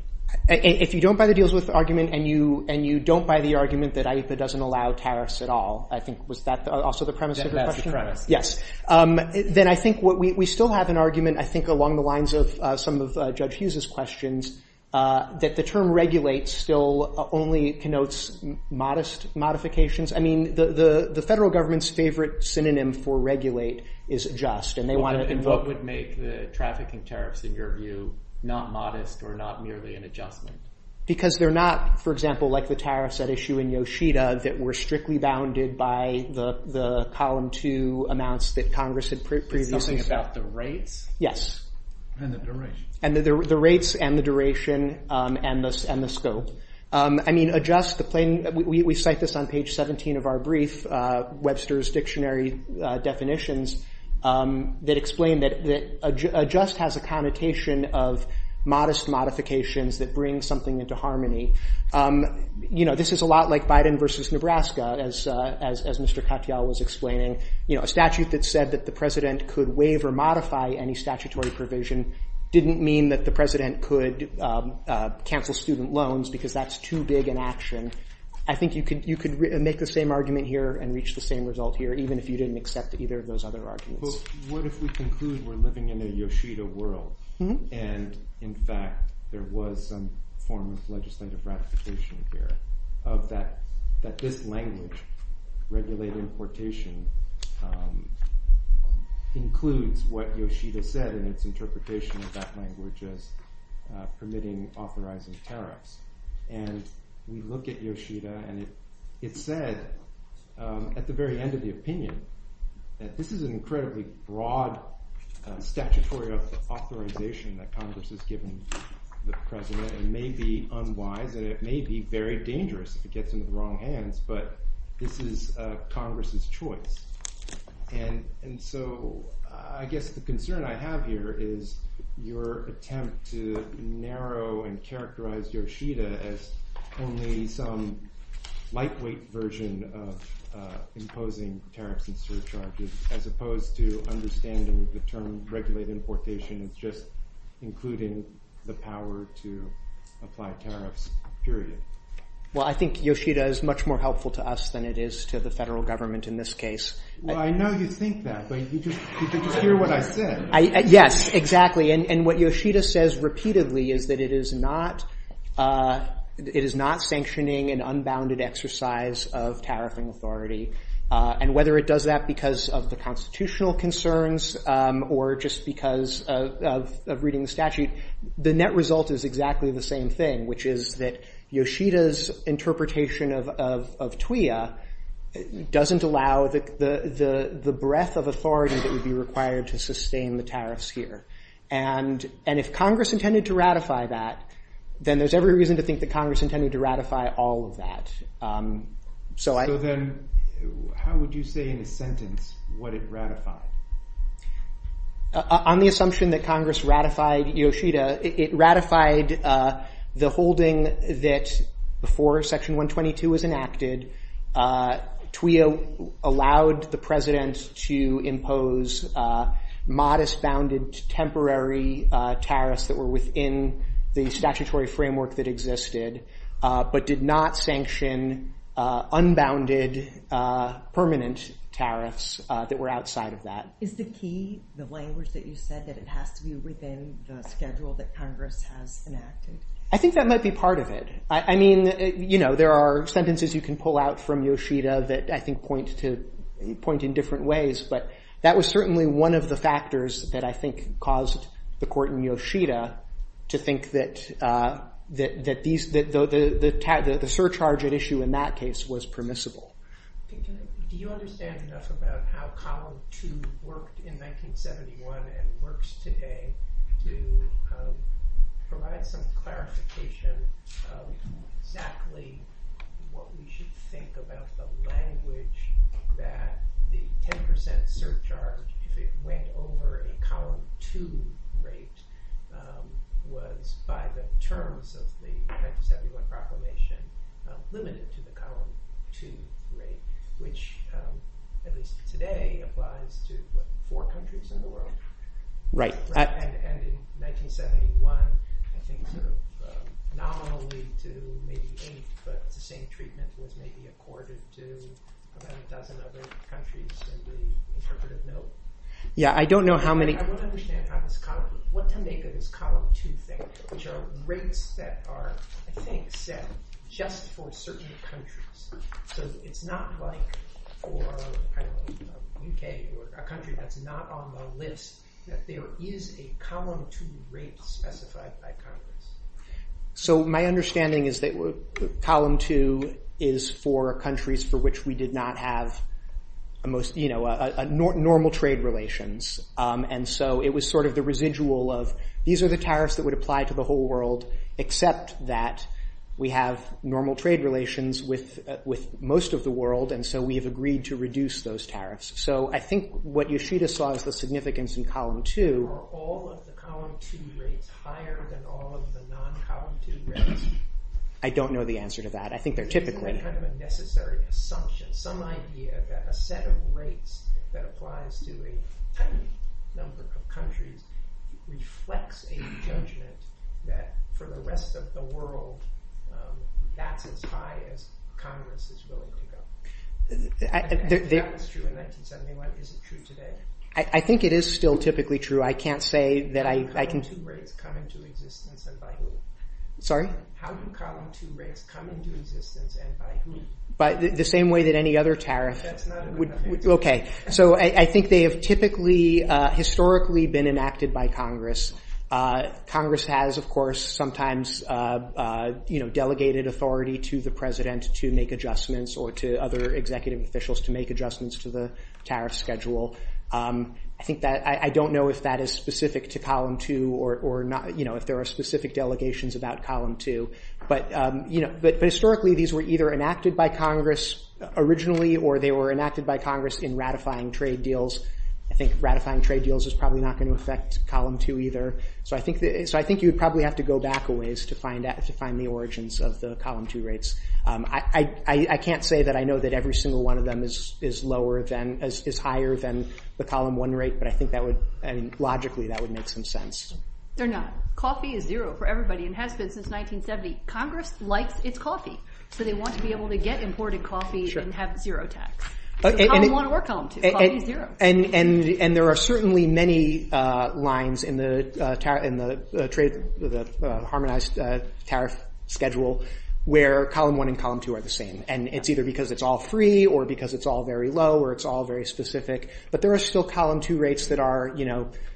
If you don't buy the deals with argument and you don't buy the argument that it doesn't allow tariffs at all, I think, was that also the premise of the question? Yes. Then I think we still have an argument, I think, along the lines of some of Judge Hughes's questions, that the term regulate still only connotes modest modifications. I mean, the federal government's favorite synonym for regulate is just, and they want to... Then what would make the trafficking tariffs, in your view, not modest or not merely an adjustment? Because they're not, for example, like the tariffs at issue in Yoshida that were strictly bounded by the column 2 amounts that Congress had previously... Something about the rate? Yes. And the duration. And the rates and the duration and the scope. I mean, adjust the plain... We cite this on page 17 of our brief, Webster's Dictionary Definitions, that explain that adjust has a connotation of modest modifications that bring something into harmony. This is a lot like Biden versus Nebraska, as Mr. Katyal was explaining. A statute that said that the president could waive or modify any statutory provision didn't mean that the president could cancel student loans because that's too big an action. I think you could make the same argument here and reach the same result here, even if you didn't accept either of those other arguments. Well, what if we conclude we're living in a Yoshida world and, in fact, there was some form of legislative ratification here that this language, regulated importation, includes what Yoshida said in its interpretation of that language as permitting authorizing tariffs. And we look at Yoshida and it said, at the very end of the opinion, that this is an incredibly broad statutory authorization that Congress has given the president. It may be unwise and it may be very dangerous if it gets into the wrong hands, but this is Congress's choice. And so I guess the concern I have here is your attempt to narrow and characterize Yoshida as only some lightweight version of imposing tariffs and surcharges as opposed to understanding the term regulated importation as just including the power to apply tariffs, period. Well, I think Yoshida is much more helpful to us than it is to the federal government in this case. Well, I know you think that, but you just hear what I said. Yes, exactly. And what Yoshida says repeatedly is that it is not sanctioning an unbounded exercise of tariff and authority. And whether it does that because of the constitutional concerns or just because of reading the statute, the net result is exactly the same thing, which is that Yoshida's interpretation of TWA doesn't allow the breadth of authority that would be required to sustain the tariffs here. And if Congress intended to ratify that, then there's every reason to think that Congress intended to ratify all of that. So then how would you say in a sentence what it ratified? On the assumption that Congress ratified Yoshida, it ratified the holding that before Section 122 was enacted, TWA allowed the president to impose modest bounded temporary tariffs that were within the statutory framework that existed but did not sanction unbounded permanent tariffs that were outside of that. Is the key, the language that you said, that it has to be within the schedule that Congress has enacted? I think that might be part of it. I mean, you know, there are sentences you can pull out from Yoshida that I think point in different ways. But that was certainly one of the factors that I think caused the court in Yoshida to think that the surcharge at issue in that case was permissible. Do you understand enough about how COD 2 worked in 1971 and works today to provide some clarification of exactly what we should think about the language that the 10% surcharge, if it went over a column 2 rate, was by the terms of the 1971 proclamation limited to the column 2 rate, which at least today applies to what, four countries in the world? Right. And in 1971, I think not only to maybe eight, but the same treatment was maybe accorded to about a dozen other countries in the interpretive note. Yeah, I don't know how many. I don't understand how this column, what to make of this column 2 thing, which are rates that are, I think, set just for certain countries. So it's not like for a country that's not on the list that there is a column 2 rate specified by Congress. So my understanding is that column 2 is for countries for which we did not have normal trade relations. And so it was sort of the residual of, these are the tariffs that would apply to the whole world, except that we have normal trade relations with most of the world. And so we have agreed to reduce those tariffs. So I think what Yoshida saw is the significance in column 2. Are all of the column 2 rates higher than all of the non-column 2 rates? I don't know the answer to that. I think they're typically. I think there's kind of a necessary assumption, some idea that a set of rates that applies to a tiny number of countries reflects a judgment that for the rest of the world, that's as high as Congress is willing to go. Is that true in 1971? Is it true today? I think it is still typically true. I can't say that I can. How do column 2 rates come into existence and by who? How do column 2 rates come into existence and by who? By the same way that any other tariff. That's not a good idea. OK. So I think they have typically historically been enacted by Congress. Congress has, of course, sometimes delegated authority to the president to make adjustments or to other executive officials to make adjustments to the tariff schedule. I don't know if that is specific to column 2 or if there are specific delegations about column 2. But historically, these were either enacted by Congress originally or they were enacted by Congress in ratifying trade deals. I think ratifying trade deals is probably not going to affect column 2 either. So I think you'd probably have to go back a ways to find the origins of the column 2 rates. I can't say that I know that every single one of them is lower than, is higher than the column 1 rate. But I think that would, and logically, that would make some sense. They're not. Coffee is zero for everybody. It has been since 1970. Congress likes its coffee. So they want to be able to get imported coffee and have zero tax. So column 1 or column 2, coffee is zero. And there are certainly many lines in the harmonized tariff schedule where column 1 and column 2 are the same. And it's either because it's all free or because it's all very low or it's all very specific. But there are still column 2 rates that are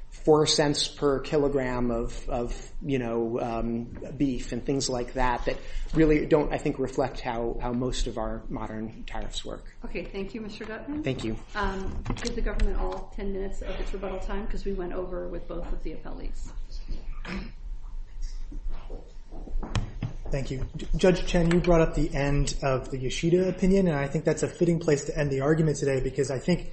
four cents per kilogram of beef and things like that that really don't, I think, reflect how most of our modern tariffs work. Okay, thank you, Mr. Gutmann. Thank you. Give the government all 10 minutes of its rebuttal time because we went over with both of the appellees. Thank you. Judge Chen, you brought up the end of the Yoshida opinion, and I think that's a fitting place to end the argument today because I think,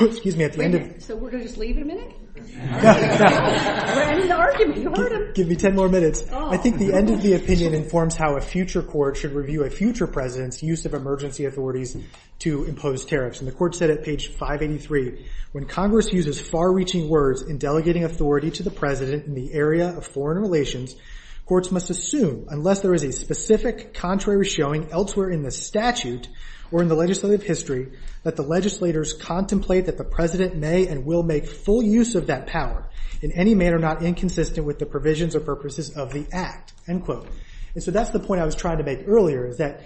excuse me, at the end of... So we're going to just leave a minute? We're ending the argument. Give me 10 more minutes. I think the end of the opinion informs how a future court should review a future president's use of emergency authorities to impose tariffs. And the court said at page 583, when Congress uses far-reaching words in delegating authority to the president, in the area of foreign relations, courts must assume, unless there is a specific contrary showing elsewhere in the statute or in the legislative history, that the legislators contemplate that the president may and will make full use of that power in any manner not inconsistent with the provisions or purposes of the act, end quote. And so that's the point I was trying to make earlier is that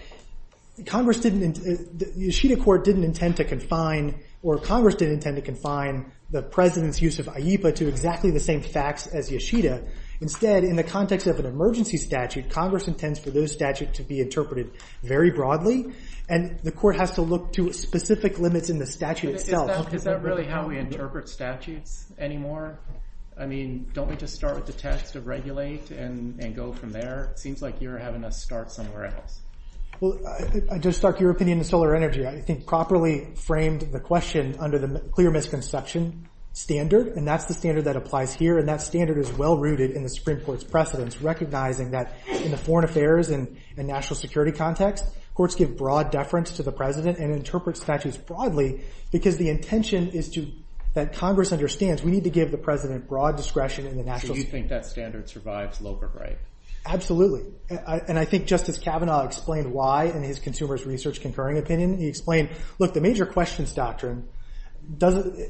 Congress didn't... The Yoshida court didn't intend to confine, or Congress didn't intend to confine the president's use of IEPA to exactly the same facts as Yoshida. Instead, in the context of an emergency statute, Congress intends for those statutes to be interpreted very broadly, and the court has to look to specific limits in the statute itself. Is that really how we interpret statutes anymore? I mean, don't we just start with the test to regulate and go from there? It seems like you're having to start somewhere else. Well, to start your opinion on solar energy, I think properly framed the question under the clear misconception standard, and that's the standard that applies here, and that standard is well-rooted in the Supreme Court's precedence, recognizing that in the foreign affairs and national security context, courts give broad deference to the president and interpret statutes broadly because the intention is that Congress understands we need to give the president broad discretion in the national security context. Do you think that standard survives low-grade? Absolutely, and I think Justice Kavanaugh explained why in his consumer's research concurring opinion. He explained, look, the major questions doctrine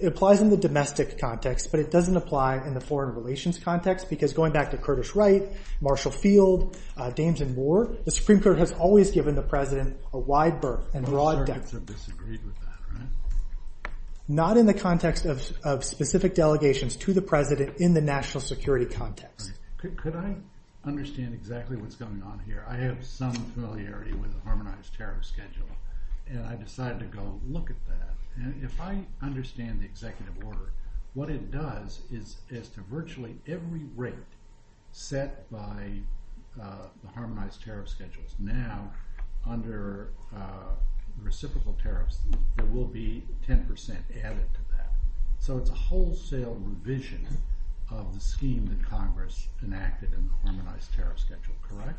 applies in the domestic context, but it doesn't apply in the foreign relations context because going back to Curtis Wright, Marshall Field, Jameson Ward, the Supreme Court has always given the president a wide berth, a broad depth. I'm starting to disagree with that, right? Not in the context of specific delegations to the president in the national security context. Could I understand exactly what's going on here? I have some familiarity with Harmonized Tariff Schedule, and I decided to go look at that, and if I understand the executive order, what it does is to virtually every rate set by the Harmonized Tariff Schedule now under reciprocal tariffs, there will be 10% added to that. So it's a wholesale revision of the scheme that Congress enacted in the Harmonized Tariff Schedule, correct?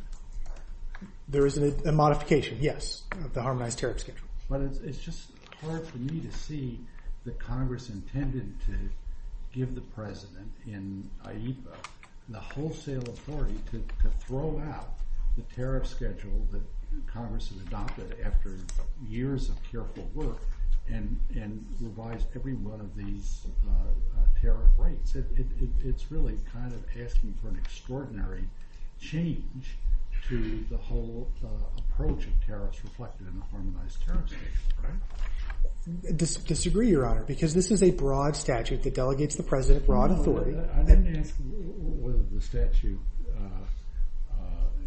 There is a modification, yes, of the Harmonized Tariff Schedule. But it's just hard for me to see that Congress intended to give the president in AIPA the wholesale authority to throw out the tariff schedule that Congress has adopted after years of careful work and revise every one of these tariff rates. It's really kind of asking for an extraordinary change to the whole approach of tariffs reflected in the Harmonized Tariff Schedule, right? I disagree, Your Honor, because this is a broad statute that delegates the president broad authority. I didn't ask whether the statute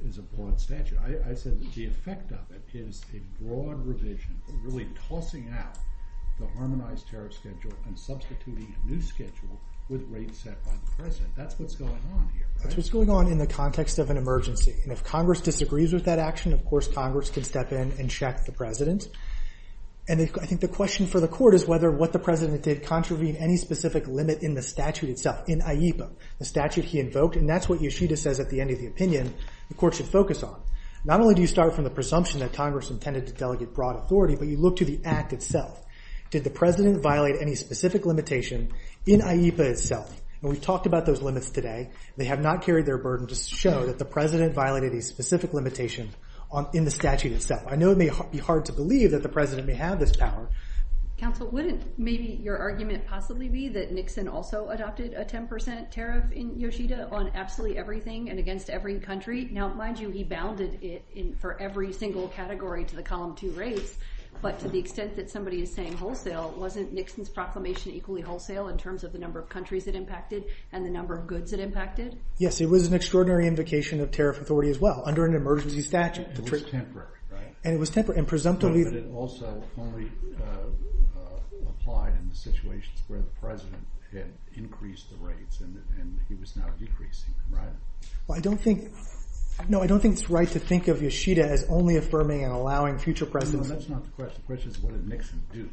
is a broad statute. I said the effect of it is a broad revision, really tossing out the Harmonized Tariff Schedule and substituting a new schedule with rates set by the president. That's what's going on here, right? That's what's going on in the context of an emergency, and if Congress disagrees with that action, of course, Congress can step in and check the president. And I think the question for the court is whether what the president did contravened any specific limit in the statute itself, in AIPA, the statute he invoked, and that's what Yeshida says at the end of the opinion the court should focus on. Not only do you start from the presumption that Congress intended to delegate broad authority, but you look to the act itself. Did the president violate any specific limitation in AIPA itself? When we talked about those limits today, they have not carried their burden to show that the president violated a specific limitation in the statute itself. I know it may be hard to believe that the president may have this power. Counsel, wouldn't maybe your argument possibly be that Nixon also adopted a 10% tariff in Yeshida on absolutely everything and against every country? Now, mind you, he bounded it for every single category to the column 2 rate, but to the extent that somebody is saying wholesale, wasn't Nixon's proclamation equally wholesale in terms of the number of countries it impacted and the number of goods it impacted? Yes, it was an extraordinary invocation of tariff authority as well under an emergency statute. It was temporary, right? And it was temporary, and presumptively... But it also only applied in the situations where the president had increased the rates and he was now decreasing, right? Well, I don't think... No, I don't think it's right to think of Yeshida as only affirming and allowing future presidents... No, that's not the question. The question is what did Nixon do?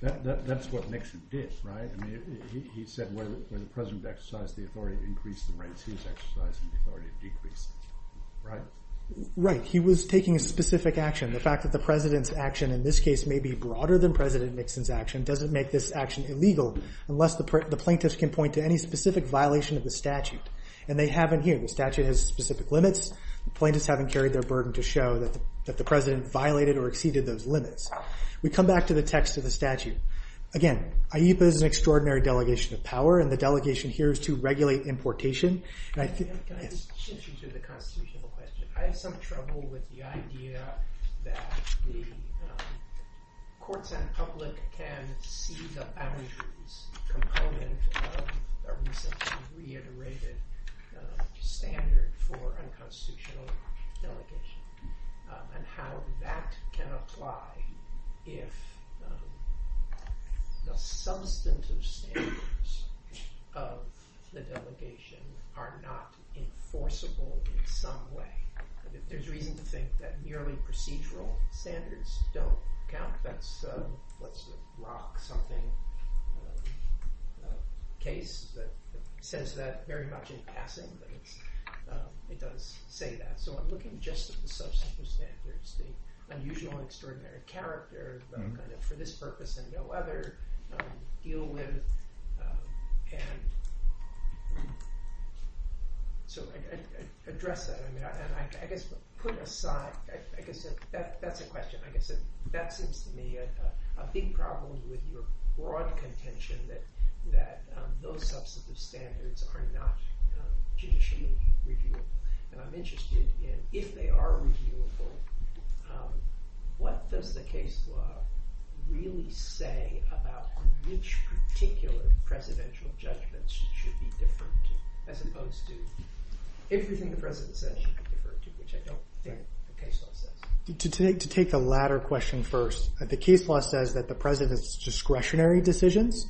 That's what Nixon did, right? I mean, he said when the president exercised the authority to increase the rates, he exercised the authority to decrease it, right? Right, he was taking a specific action. The fact that the president's action in this case may be broader than President Nixon's action doesn't make this action illegal unless the plaintiffs can point to any specific violation of the statute, and they haven't here. The statute has specific limits. The plaintiffs haven't carried their burden to show that the president violated or exceeded those limits. We come back to the text of the statute. Again, IEFA is an extraordinary delegation of power, and the delegation here is to regulate importation. Can I just change you to the constitutional question? I have some trouble with the idea that the courts and public can see the boundaries component of a recently reiterated standard for a constitutional delegation and how that can apply if the substantive standards of the delegation are not enforceable in some way. There's reason to think that merely procedural standards don't count. That's a Rock something case that says that Mary Poppins is passing, but it doesn't say that. So I'm looking just at the substantive standards, the unusual and extraordinary characters that for this purpose and no other deal with. So I address that. I guess put aside, I guess that's a question. I guess that seems to me a big problem with your broad contention that those substantive standards are not judicially reviewable. And I'm interested in if they are reviewable, what does the case law really say about which particular presidential judgments should be different as opposed to everything the president says should be different, which I don't think the case law says. To take the latter question first, the case law says that the president's discretionary decisions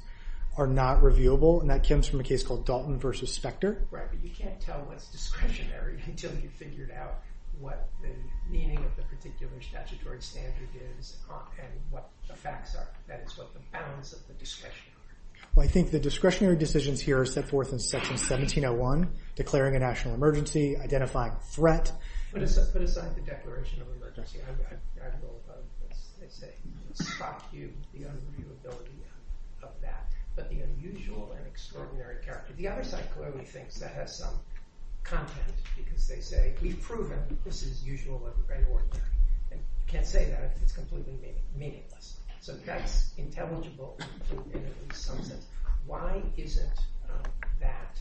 are not reviewable, and that comes from a case called Dalton v. Specter. You can't tell what's discretionary until you've figured out what the meaning of the particular statutory standard is and what the facts are, and it's what the bounds of the discretion are. Well, I think the discretionary decisions here are set forth in Section 1701, declaring a national emergency, identifying a threat. But put aside the declaration of emergency, I don't know if that struck you, the unremovability of that, but the unusual and extraordinary character. The other side clearly thinks that has some context because they say, we've proven that this is unusual and extraordinary. They can't say that if it's completely meaningless. So that intelligible, why is it that,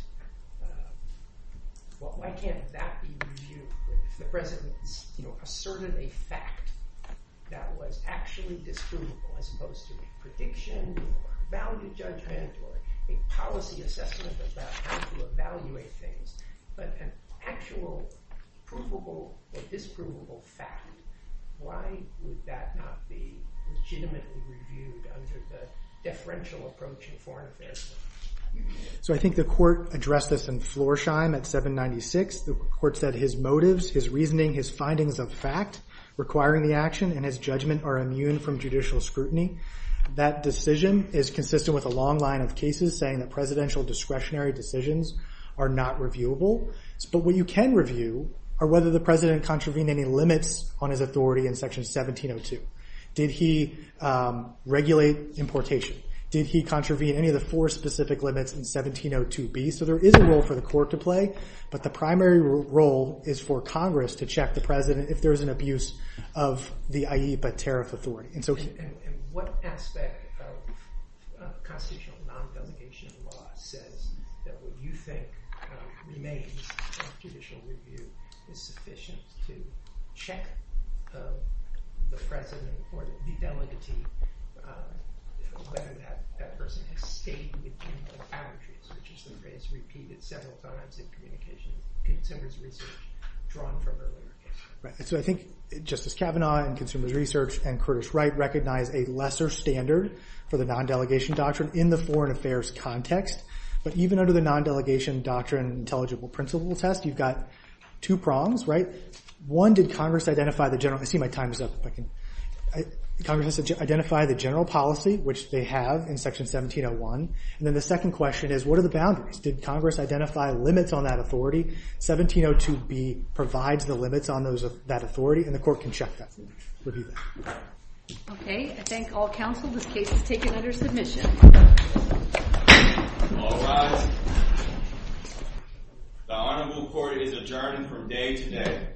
why can't that be reviewable? The president asserted a fact that was actually disprovable as opposed to a prediction or a valid judgment or a policy assessment about how to evaluate things. But an actual provable or disprovable fact, why would that not be legitimately reviewed under the differential approach of foreign affairs? So I think the court addressed this in Florsheim at 796. The court said his motives, his reasoning, his findings of fact requiring the action and his judgment are immune from judicial scrutiny. That decision is consistent with a long line of cases saying that presidential discretionary decisions are not reviewable. But what you can review are whether the president contravened any limits on his authority in section 1702. Did he regulate importation? Did he contravene any of the four specific limits in 1702B? So there is a role for the court to play, but the primary role is for Congress to check the president if there's an abuse of the IEPA tariff authority. And what aspect of constitutional non-competition law says that what you think remains of judicial review is sufficient to check the president or the court of delegacy whether that person is stating the intended characteristics which is to say it's repeated several times in communication with consumers research drawn from earlier. So I think Justice Kavanaugh in consumers research and Curtis Wright recognize a lesser standard for the non-delegation doctrine in the foreign affairs context. But even under the non-delegation doctrine intelligible principle test, you've got two problems, right? One, did Congress identify the general... I see my time is up. Congress identify the general policy which they have in section 1701. And then the second question is what are the boundaries? Did Congress identify limits on that authority? 1702B provides the limits on that authority and the court can check that. We'll do that. Okay, I thank all counsel. This case is taken under submission. All rise. The audience report is adjourned for today.